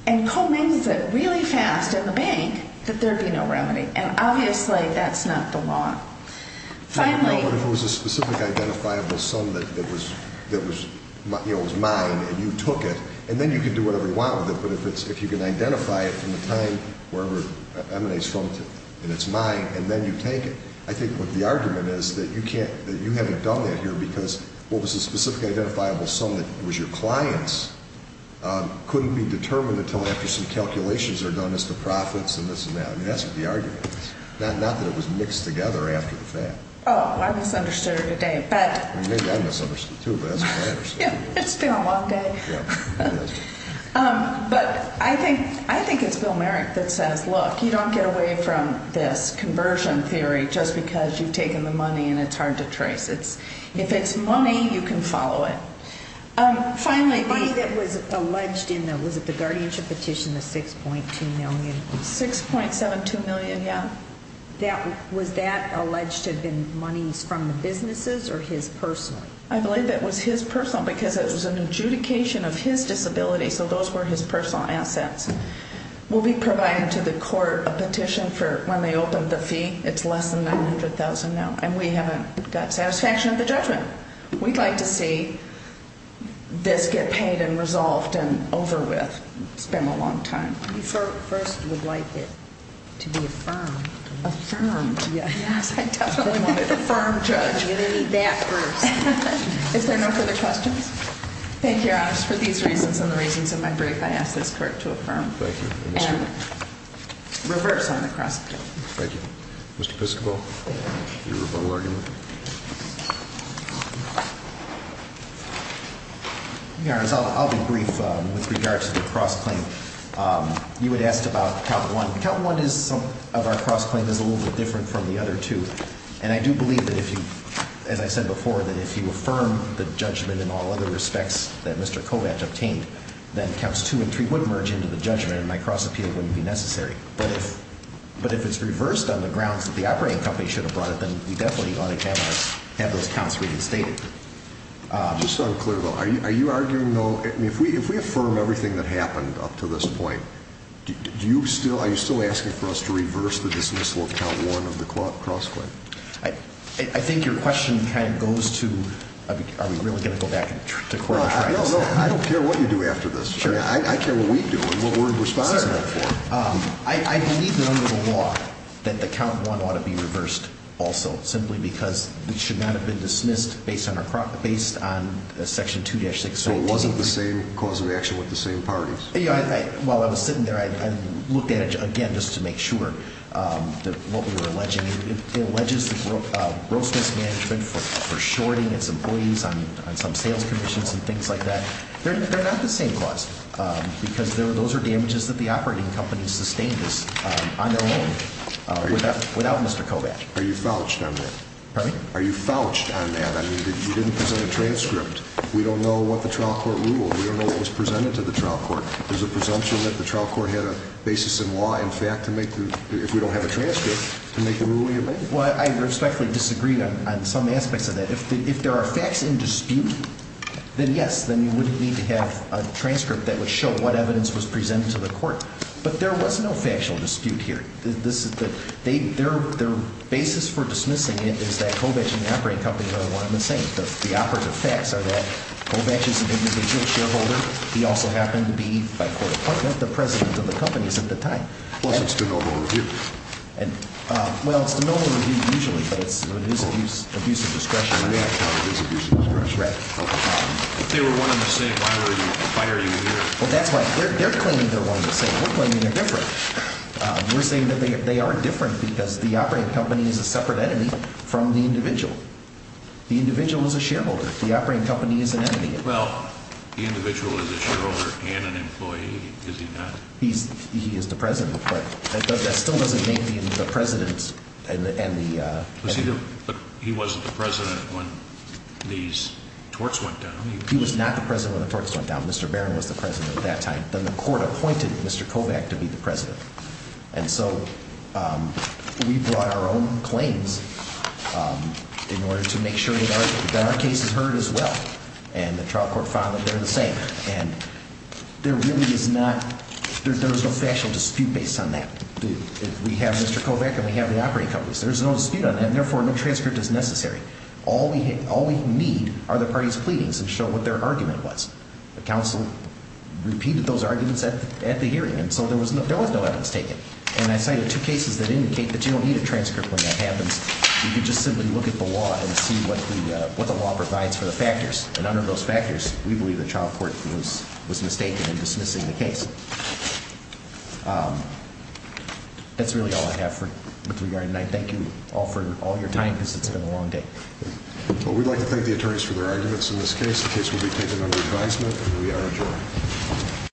and co-makes it really fast in the bank, that there'd be no remedy, and obviously, that's not the law. If it was a specific identifiable sum that was mine, and you took it, and then you can do whatever you want with it, but if you can identify it from the time where it's mine, and then you take it, I think the argument is that you can't, that you haven't done it here because it was a specific identifiable sum that was your client's, couldn't be determined until after some calculations are done as to profits and this and that. That's the argument, not that it was mixed together after the fact. Oh, I misunderstood you, Dave. Maybe I misunderstood you too, but I misunderstood you. It's been a long day. But I think it's still merit that says, look, you don't get away from this conversion theory just because you've taken the money and it's hard to trace it. If it's money, you can follow it. Finally, the money that was alleged in the guardianship petition was $6.2 million. $6.7 million, yes. Was that alleged to have been money from the businesses or his personal? I believe it was his personal because it was an adjudication of his disability, so those were his personal assets. We'll be providing to the court a petition for when they open the fee. It's less than $100,000 now, and we haven't got satisfaction of the judgment. We'd like to see this get paid and resolved and over with. It's been a long time. You first would like it to be affirmed. Affirmed, yes. Affirmed judgment. Is there no further questions? Thank you, Your Honor. For these reasons and the reasons of my brief, I ask the court to affirm. Thank you. And reverse on the cross-examination. Thank you. Mr. Piscopo? Your Honor, I'll be brief with regards to the cross-claim. You had asked about count one. Count one of our cross-claims is a little bit different from the other two. And I do believe that if you, as I said before, that if you affirm the judgment in all other respects that Mr. Kovatch obtained, then counts two and three would merge into the judgment and my cross-appeal wouldn't be necessary. But if it's reversed on the grounds that the operating company should have brought it, then we definitely ought to have those counts reinstated. Just so I'm clear, though, are you arguing, though, if we affirm everything that happened up to this point, are you still asking for us to reverse the dismissal of count one of the cross-claim? I think your question kind of goes to are we really going to go back to court? I don't care what you do after this. I care what we do and what we're responsible for. I believe down to the law that the count one ought to be reversed also, simply because we should not have been dismissed based on section 2-68. So it wasn't the same cause of action with the same parties? While I was sitting there, I looked at it, again, just to make sure what we were alleging. It alleges the broken management for shorting its employees on some sales commissions and things like that. They're not the same cause because those are damages that the operating company sustains on their own without Mr. Kovach. Are you fouled on that? Pardon me? Are you fouled on that? I mean, you didn't present a transcript. We don't know what the trial court ruled. We don't know what was presented to the trial court. There's a presumption that the trial court had a basis in law, in fact, if we don't have a transcript to make the ruling. Well, I respectfully disagree on some aspects of that. If there are facts in dispute, then yes, then you wouldn't need to have a transcript that would show what evidence was presented to the court. But there was no factual dispute here. Their basis for dismissing it is that Kovach and the operating company are one and the same. The operative facts are that Kovach is an individual shareholder. He also happened to be, by court appointment, the president of the company at the time. Well, he's still no longer with you. Well, no one would be usually told that there's an abuse of discretion in that case. If they were one and the same, why would a fighter do it? Well, that's right. They're claiming they're different. They are different because the operating company is a separate entity from the individual. The individual is a shareholder. The operating company is an entity. Well, the individual is a shareholder and an employee, is he not? He is the president. That still doesn't make him the president. He wasn't the president when these torts went down. He was not the president when the torts went down. Mr. Barron was the president at that time. Then the court appointed Mr. Kovach to be the president. And so we brought our own claims in order to make sure that our case was heard as well. And the trial court found that they're the same. And there really is not – there's no factual dispute based on that. We have Mr. Kovach and we have the operating companies. There's no dispute on that and, therefore, no transcript is necessary. All we need are the parties' pleadings and show what their argument was. The counsel repeats those arguments at the hearing. And so there was no evidence taken. And I cited two cases that indicate that you don't need a transcript when that happens. You can just simply look at the law and see what the law provides for the factors. And under those factors, we believe the trial court was mistaken in dismissing the case. That's really all I have for you, Mr. Barron. And I thank you all for all your time. This has been a long day. Well, we'd like to thank the attorneys for their arguments in this case. The case will be taken under the counsel. We are adjourned.